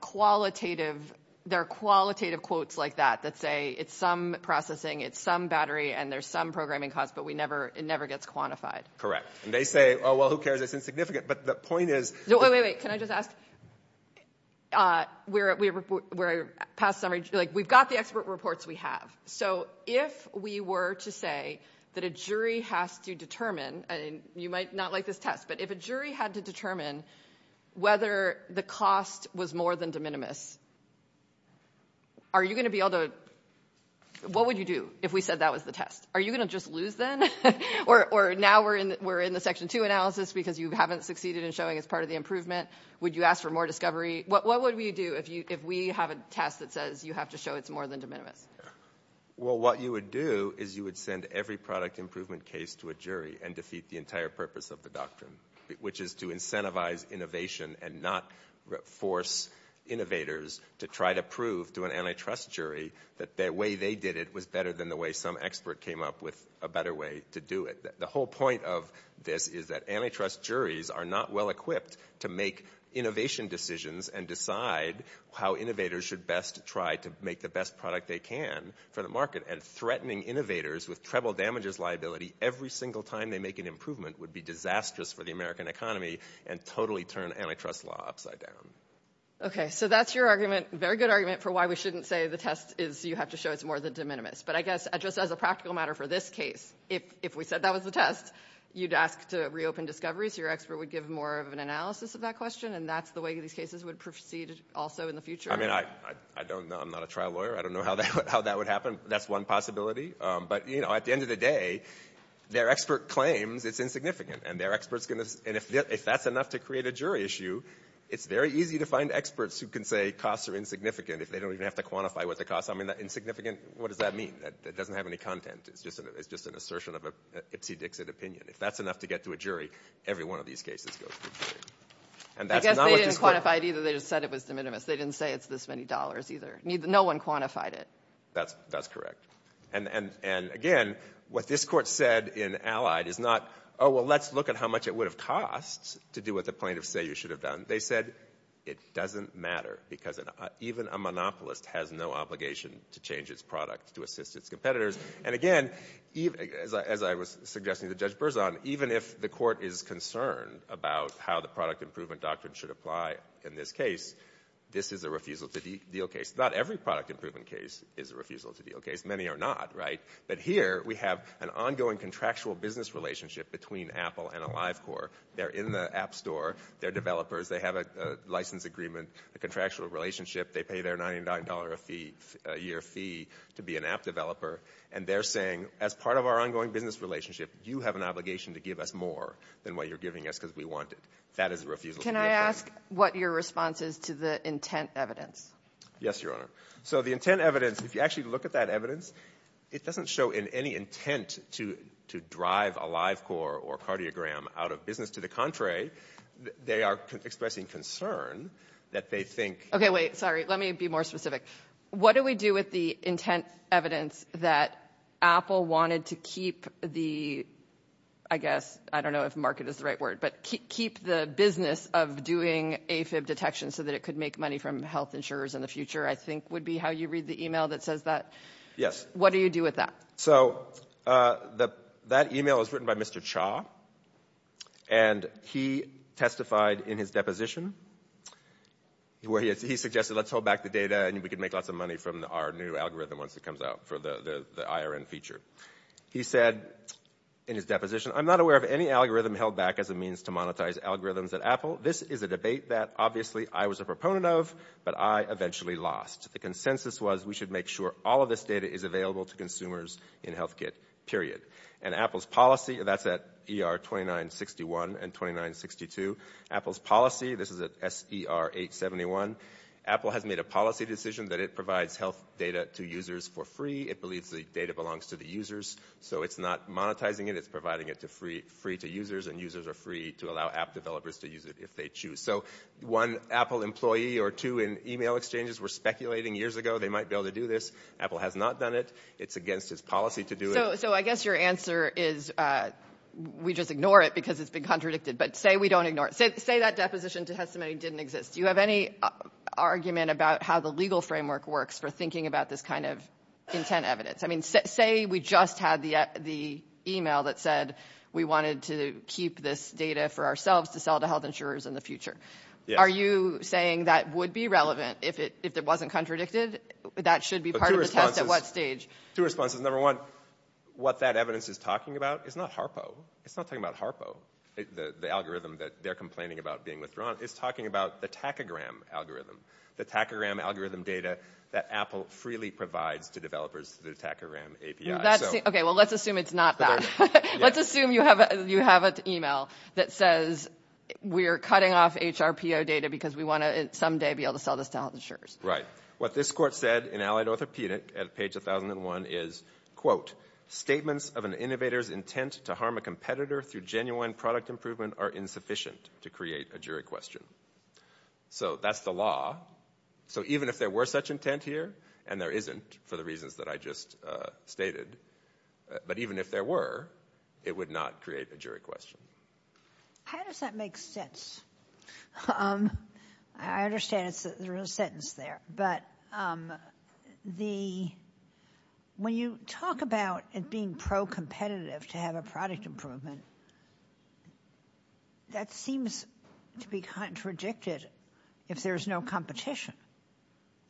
qualitative – there are qualitative quotes like that that say it's some processing, it's some battery, and there's some programming cost, but we never – it never gets quantified. Correct. And they say, oh, well, who cares? It's insignificant. But the point is – No, wait, wait, wait. Can I just ask – we're past – like, we've got the expert reports we have. So if we were to say that a jury has to determine – and you might not like this test, but if a jury had to determine whether the cost was more than de minimis, are you going to be able to – what would you do if we said that was the test? Are you going to just lose then? Or now we're in the section two analysis because you haven't succeeded in showing it's part of the improvement. Would you ask for more discovery? What would we do if we have a test that says you have to show it's more than de minimis? Well, what you would do is you would send every product improvement case to a jury and defeat the entire purpose of the doctrine, which is to incentivize innovation and not force innovators to try to prove to an antitrust jury that the way they did it was better than the way some expert came up with a better way to do it. The whole point of this is that antitrust juries are not well-equipped to make innovation decisions and decide how innovators should best try to make the best product they can for the market. And threatening innovators with treble damages liability every single time they make an improvement would be disastrous for the American economy and totally turn antitrust law upside down. Okay, so that's your argument – very good argument for why we shouldn't say the test is – but I guess just as a practical matter for this case, if we said that was the test, you'd ask to reopen discoveries. Your expert would give more of an analysis of that question, and that's the way these cases would proceed also in the future. I mean, I'm not a trial lawyer. I don't know how that would happen. That's one possibility. But, you know, at the end of the day, their expert claims it's insignificant, and if that's enough to create a jury issue, it's very easy to find experts who can say costs are insignificant if they don't even have to quantify what the cost – insignificant, what does that mean? It doesn't have any content. It's just an assertion of an opinion. If that's enough to get to a jury, every one of these cases goes to a jury. I guess they didn't quantify it either. They just said it was de minimis. They didn't say it's this many dollars either. No one quantified it. That's correct. And, again, what this court said in Allied is not, oh, well, let's look at how much it would have cost to do what the plaintiffs say you should have done. They said it doesn't matter, because even a monopolist has no obligation to change his products to assist his competitors. And, again, as I was suggesting to Judge Berzon, even if the court is concerned about how the product improvement doctrine should apply in this case, this is a refusal to deal case. Not every product improvement case is a refusal to deal case. Many are not, right? But here we have an ongoing contractual business relationship between Apple and AliveCorps. They're in the App Store. They're developers. They have a license agreement, a contractual relationship. They pay their $99 a year fee to be an app developer. And they're saying, as part of our ongoing business relationship, you have an obligation to give us more than what you're giving us because we want it. That is a refusal to deal case. Can I ask what your response is to the intent evidence? Yes, Your Honor. So the intent evidence, if you actually look at that evidence, it doesn't show in any intent to drive AliveCorps or Cardiogram out of business. To the contrary, they are expressing concern that they think. Okay, wait. Sorry. Let me be more specific. What do we do with the intent evidence that Apple wanted to keep the, I guess, I don't know if market is the right word, but keep the business of doing AFib detection so that it could make money from health insurers in the future, I think would be how you read the email that says that. Yes. What do you do with that? So that email was written by Mr. Cha. And he testified in his deposition where he suggested let's hold back the data and we could make lots of money from our new algorithm once it comes out for the IRN feature. He said in his deposition, I'm not aware of any algorithm held back as a means to monetize algorithms at Apple. This is a debate that obviously I was a proponent of, but I eventually lost. The consensus was we should make sure all of this data is available to consumers in HealthKit, period. And Apple's policy, that's at ER 2961 and 2962. Apple's policy, this is at SDR 871. Apple has made a policy decision that it provides health data to users for free. It believes the data belongs to the users. So it's not monetizing it. It's providing it free to users, and users are free to allow app developers to use it if they choose. So one Apple employee or two in email exchanges were speculating years ago they might be able to do this. Apple has not done it. It's against its policy to do it. So I guess your answer is we just ignore it because it's been contradicted. But say we don't ignore it. Say that deposition to Hestimony didn't exist. Do you have any argument about how the legal framework works for thinking about this kind of intent evidence? I mean, say we just had the email that said we wanted to keep this data for ourselves to sell to health insurers in the future. Are you saying that would be relevant if it wasn't contradicted? That should be part of the test at what stage? Two responses. Number one, what that evidence is talking about is not HARPO. It's not talking about HARPO, the algorithm that they're complaining about being withdrawn. It's talking about the tachygram algorithm, the tachygram algorithm data that Apple freely provides to developers through the tachygram API. Okay, well, let's assume it's not that. Let's assume you have an email that says we're cutting off HARPO data because we want to someday be able to sell this to health insurers. Right. What this court said in Allied Orthopedic at page 1001 is, quote, statements of an innovator's intent to harm a competitor through genuine product improvement are insufficient to create a jury question. So that's the law. So even if there were such intent here, and there isn't for the reasons that I just stated, but even if there were, it would not create a jury question. How does that make sense? I understand it's a real sentence there, but when you talk about it being pro-competitive to have a product improvement, that seems to be contradicted if there's no competition.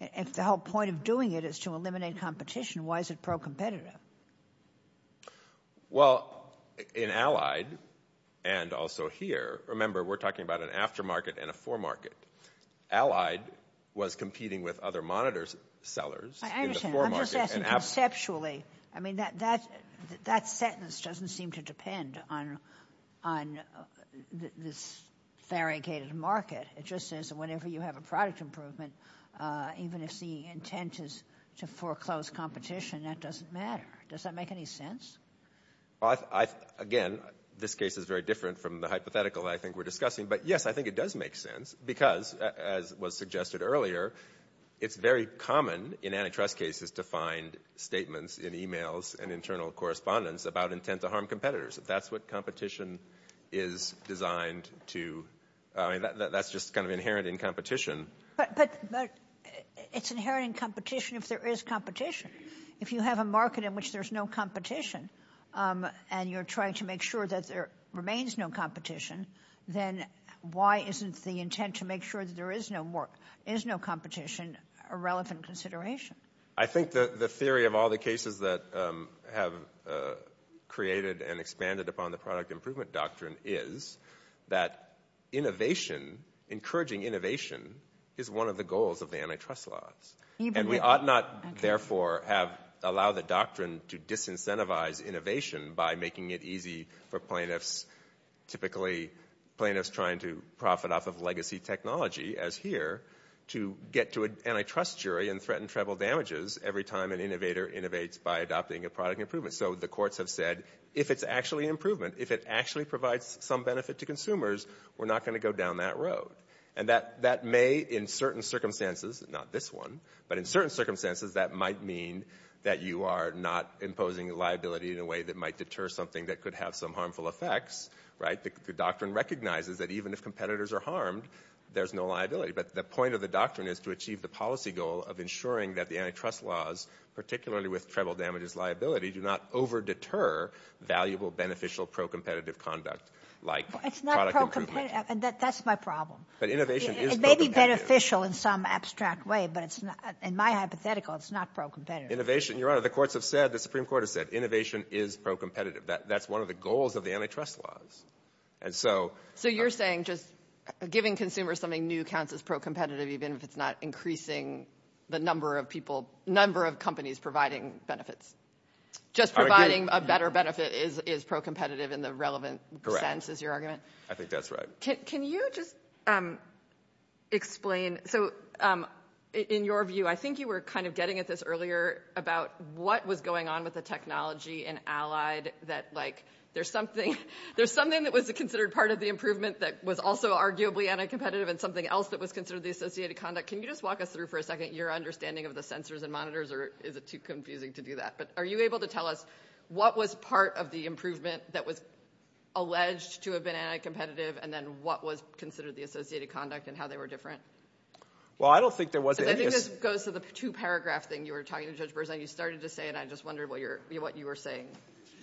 If the whole point of doing it is to eliminate competition, why is it pro-competitive? Well, in Allied, and also here, remember, we're talking about an aftermarket and a foremarket. Allied was competing with other monitor sellers. I'm just asking conceptually. I mean, that sentence doesn't seem to depend on this variegated market. It just says that whenever you have a product improvement, even if the intent is to foreclose competition, that doesn't matter. Does that make any sense? Again, this case is very different from the hypothetical I think we're discussing. But, yes, I think it does make sense because, as was suggested earlier, it's very common in antitrust cases to find statements in emails and internal correspondence about intent to harm competitors. If that's what competition is designed to, I mean, that's just kind of inherent in competition. But it's inherent in competition if there is competition. If you have a market in which there's no competition, and you're trying to make sure that there remains no competition, then why isn't the intent to make sure that there is no competition a relevant consideration? I think the theory of all the cases that have created and expanded upon the product improvement doctrine is that innovation, encouraging innovation, is one of the goals of the antitrust laws. And we ought not, therefore, have allowed the doctrine to disincentivize innovation by making it easy for plaintiffs, typically plaintiffs trying to profit off of legacy technology, as here, to get to an antitrust jury and threaten treble damages every time an innovator innovates by adopting a product improvement. So the courts have said, if it's actually improvement, if it actually provides some benefit to consumers, we're not going to go down that road. And that may, in certain circumstances, not this one, but in certain circumstances, that might mean that you are not imposing a liability in a way that might deter something that could have some harmful effects. The doctrine recognizes that even if competitors are harmed, there's no liability. But the point of the doctrine is to achieve the policy goal of ensuring that the antitrust laws, particularly with treble damages liability, do not over-deter valuable, beneficial, pro-competitive conduct like product improvement. It's not pro-competitive. That's my problem. It may be beneficial in some abstract way, but in my hypothetical, it's not pro-competitive. Innovation, Your Honor, the courts have said, the Supreme Court has said, innovation is pro-competitive. That's one of the goals of the antitrust laws. So you're saying just giving consumers something new counts as pro-competitive, even if it's not increasing the number of companies providing benefits? Just providing a better benefit is pro-competitive in the relevant sense, is your argument? I think that's right. Can you just explain? So in your view, I think you were kind of getting at this earlier about what was going on with the technology and allied that, like, there's something that was considered part of the improvement that was also arguably anti-competitive and something else that was considered the associated conduct. Can you just walk us through for a second your understanding of the sensors and monitors, or is it too confusing to do that? But are you able to tell us what was part of the improvement that was alleged to have been anti-competitive and then what was considered the associated conduct and how they were different? Well, I don't think there was any – I think this goes to the two-paragraph thing you were talking to Judge Berzant. You started to say it, and I just wondered what you were saying.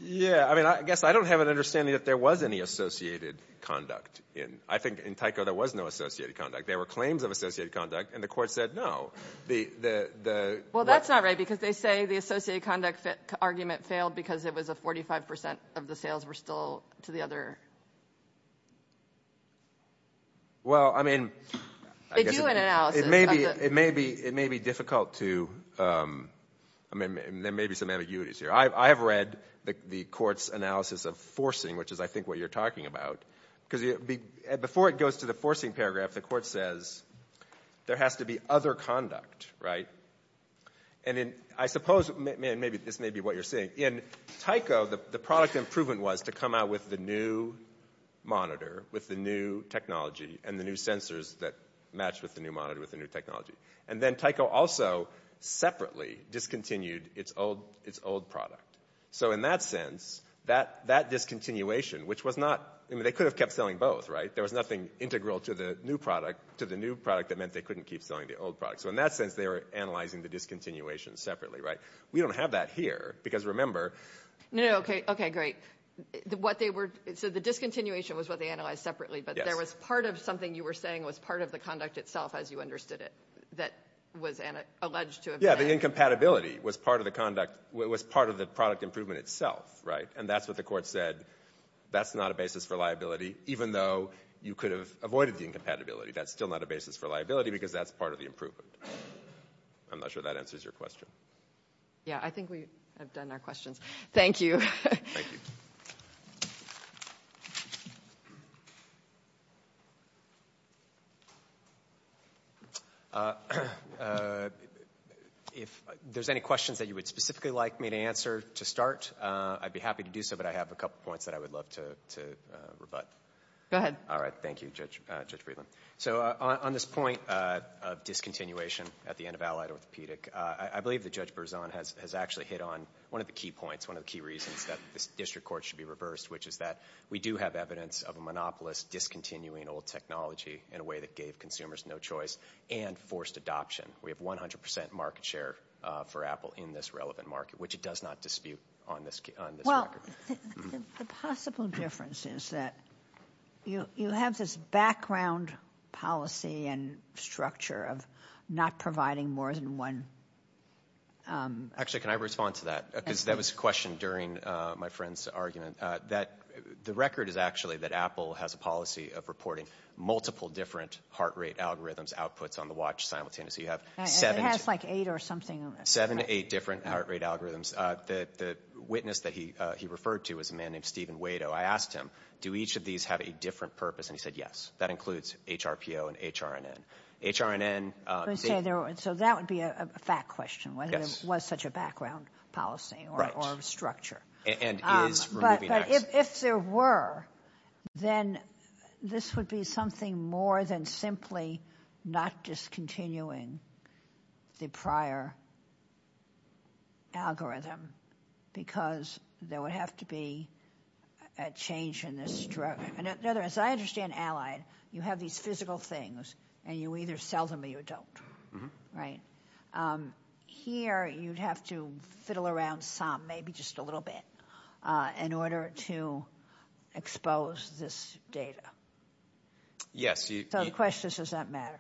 Yeah, I mean, I guess I don't have an understanding that there was any associated conduct. I think in Tyco there was no associated conduct. There were claims of associated conduct, and the court said no. Well, that's not right because they say the associated conduct argument failed because it was a 45 percent of the sales were still to the other. Well, I mean, it may be difficult to – I mean, there may be some ambiguities here. I have read the court's analysis of forcing, which is, I think, what you're talking about, because before it goes to the forcing paragraph, the court says there has to be other conduct, right? And I suppose this may be what you're saying. In Tyco, the product improvement was to come out with the new monitor, with the new technology, and the new sensors that matched with the new monitor with the new technology. And then Tyco also separately discontinued its old product. So in that sense, that discontinuation, which was not – I mean, they could have kept selling both, right? There was nothing integral to the new product that meant they couldn't keep selling the old product. So in that sense, they were analyzing the discontinuation separately, right? We don't have that here because remember – No, okay, great. So the discontinuation was what they analyzed separately, but there was part of something you were saying was part of the conduct itself as you understood it that was alleged to have been – Yeah, the incompatibility was part of the product improvement itself, right? And that's what the court said. That's not a basis for liability, even though you could have avoided the incompatibility. That's still not a basis for liability because that's part of the improvement. I'm not sure that answers your question. Yeah, I think we have done our questions. Thank you. Thank you. If there's any questions that you would specifically like me to answer to start, I'd be happy to do so, but I have a couple of points that I would love to rebut. Go ahead. All right, thank you, Judge Berzon. So on this point of discontinuation at the end of Allied Orthopedic, I believe that Judge Berzon has actually hit on one of the key points, one of the key reasons that this district court should be reversed, which is that we do have evidence of a monopolist discontinuing old technology in a way that gave consumers no choice and forced adoption. We have 100 percent market share for Apple in this relevant market, which it does not dispute on this record. Well, the possible difference is that you have this background policy and structure of not providing more than one. Actually, can I respond to that? That was a question during my friend's argument. The record is actually that Apple has a policy of reporting multiple different heart rate algorithms as outputs on the watch simultaneously. It has like eight or something. Seven to eight different heart rate algorithms. The witness that he referred to was a man named Stephen Wado. I asked him, do each of these have a different purpose? And he said, yes, that includes HRPO and HRNN. So that would be a fact question, whether there was such a background policy or structure. But if there were, then this would be something more than simply not discontinuing the prior algorithm because there would have to be a change in this structure. In other words, I understand Allied. You have these physical things and you either sell them or you don't. Right. Here you have to fiddle around some, maybe just a little bit, in order to expose this data. Yes. So the question is, does that matter?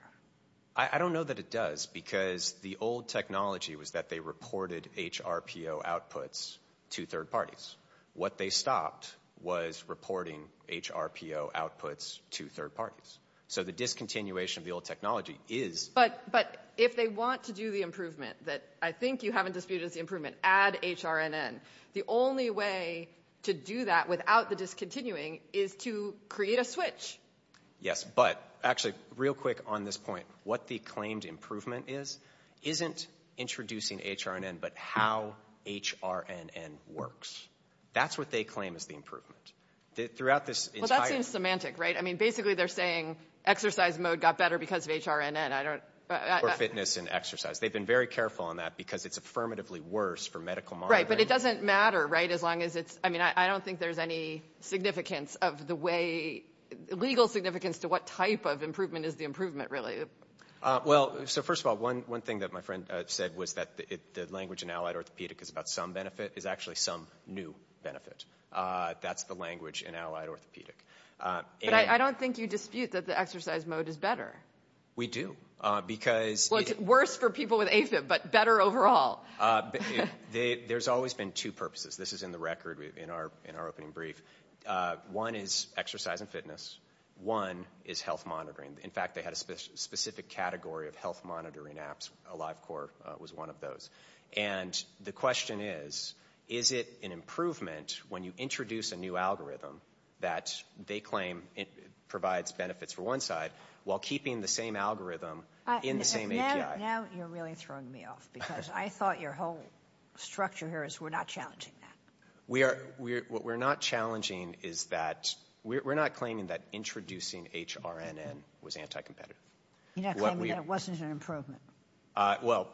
I don't know that it does because the old technology was that they reported HRPO outputs to third parties. What they stopped was reporting HRPO outputs to third parties. So the discontinuation of the old technology is— But if they want to do the improvement that I think you haven't disputed is the improvement, add HRNN, the only way to do that without the discontinuing is to create a switch. Yes. But actually, real quick on this point. What the claimed improvement is isn't introducing HRNN, but how HRNN works. That's what they claim is the improvement. Throughout this entire— Well, that's being semantic, right? I mean, basically they're saying exercise mode got better because of HRNN. For fitness and exercise. They've been very careful on that because it's affirmatively worse for medical— Right, but it doesn't matter, right, as long as it's— I mean, I don't think there's any significance of the way— legal significance to what type of improvement is the improvement, really. Well, so first of all, one thing that my friend said was that the language in Allied Orthopedic is about some benefit. It's actually some new benefit. That's the language in Allied Orthopedic. But I don't think you dispute that the exercise mode is better. We do because— Well, it's worse for people with ACEF, but better overall. There's always been two purposes. This is in the record in our opening brief. One is exercise and fitness. One is health monitoring. In fact, they had a specific category of health monitoring apps. AliveCore was one of those. And the question is, is it an improvement when you introduce a new algorithm that they claim provides benefits for one side while keeping the same algorithm in the same AGI? Now you're really throwing me off because I thought your whole structure here is we're not challenging that. What we're not challenging is that—we're not claiming that introducing HRNN was anti-competitive. You're not claiming there wasn't an improvement. Well,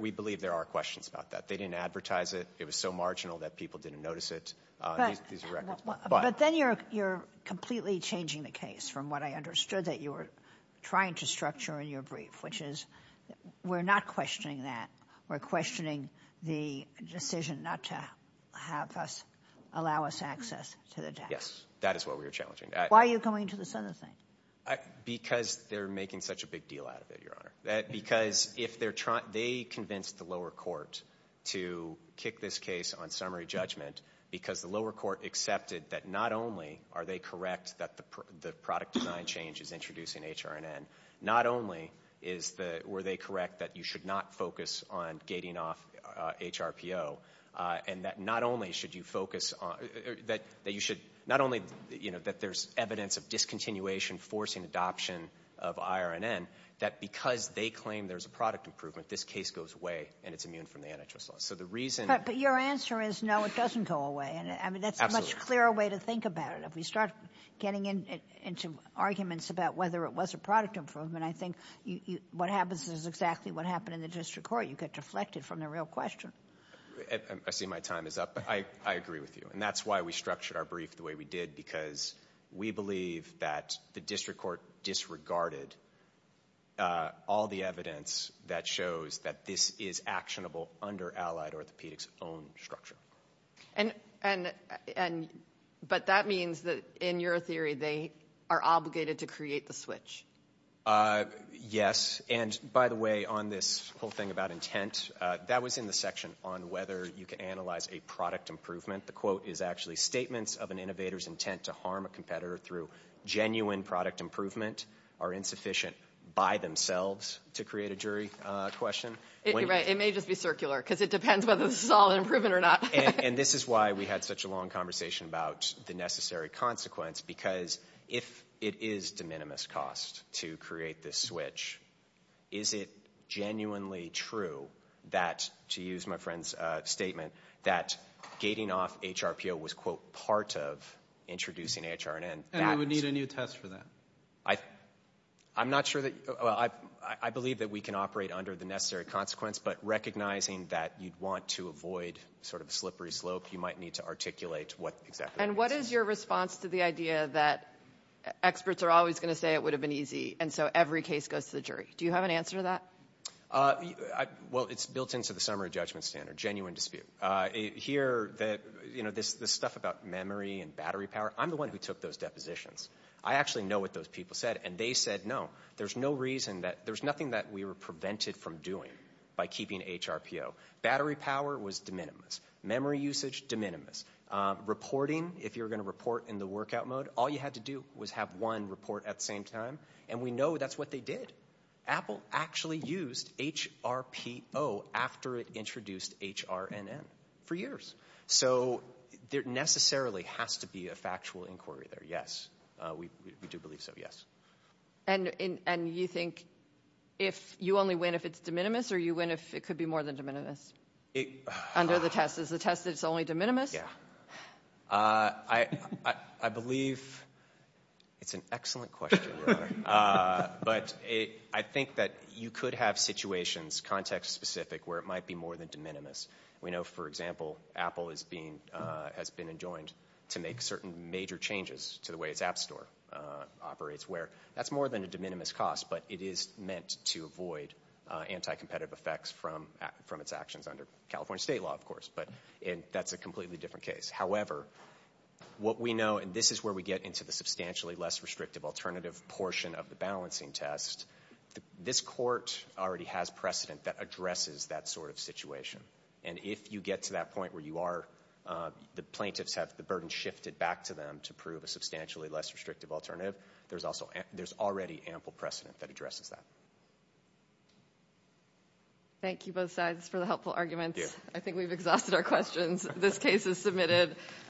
we believe there are questions about that. They didn't advertise it. It was so marginal that people didn't notice it. But then you're completely changing the case from what I understood that you were trying to structure in your brief, which is we're not questioning that. We're questioning the decision not to have us—allow us access to the data. Yes, that is what we're challenging. Why are you going into this other thing? Because they're making such a big deal out of it, Your Honor. Because if they're—they convinced the lower courts to kick this case on summary judgment because the lower court accepted that not only are they correct that the product design change is introducing HRNN, not only were they correct that you should not focus on gating off HRPO and that not only should you focus on— that you should—not only that there's evidence of discontinuation forcing adoption of IRNN, that because they claim there's a product improvement, this case goes away and it's immune from the NHS law. So the reason— But your answer is no, it doesn't go away. I mean, that's a much clearer way to think about it. If we start getting into arguments about whether it was a product improvement, I think what happens is exactly what happened in the district court. You get deflected from the real question. I see my time is up, but I agree with you. And that's why we structured our brief the way we did, because we believe that the district court disregarded all the evidence that shows that this is actionable under allied orthopedics' own structure. But that means that, in your theory, they are obligated to create the switch. Yes. And, by the way, on this whole thing about intent, that was in the section on whether you can analyze a product improvement. The quote is actually statements of an innovator's intent to harm a competitor through genuine product improvement are insufficient by themselves to create a jury question. It may just be circular, because it depends whether this is all an improvement or not. And this is why we had such a long conversation about the necessary consequence, because if it is de minimis cost to create this switch, is it genuinely true that, to use my friend's statement, that gating off HRPO was, quote, part of introducing HRNN? And we would need a new test for that. I'm not sure that you – well, I believe that we can operate under the necessary consequence, but recognizing that you'd want to avoid sort of a slippery slope, you might need to articulate what exactly. And what is your response to the idea that experts are always going to say it would have been easy, and so every case goes to the jury? Do you have an answer to that? Well, it's built into the summary judgment standard, genuine dispute. Here, you know, this stuff about memory and battery power, I'm the one who took those depositions. I actually know what those people said, and they said no. There's no reason that – there's nothing that we were prevented from doing by keeping HRPO. Battery power was de minimis. Memory usage, de minimis. Reporting, if you're going to report in the workout mode, all you had to do was have one report at the same time. And we know that's what they did. Apple actually used HRPO after it introduced HRNN for years. So there necessarily has to be a factual inquiry there, yes. We do believe so, yes. And you think you only win if it's de minimis, or you win if it could be more than de minimis under the test? Is the test that it's only de minimis? Yeah. I believe it's an excellent question, really. But I think that you could have situations, context-specific, where it might be more than de minimis. We know, for example, Apple has been adjoined to make certain major changes to the way its App Store operates, where that's more than a de minimis cost, but it is meant to avoid anti-competitive effects from its actions under California state law, of course. And that's a completely different case. However, what we know, and this is where we get into the substantially less restrictive alternative portion of the balancing test, this court already has precedent that addresses that sort of situation. And if you get to that point where the plaintiffs have the burden shifted back to them to prove a substantially less restrictive alternative, there's already ample precedent that addresses that. Thank you, both sides, for the helpful arguments. Thank you. I think we've exhausted our questions. This case is submitted.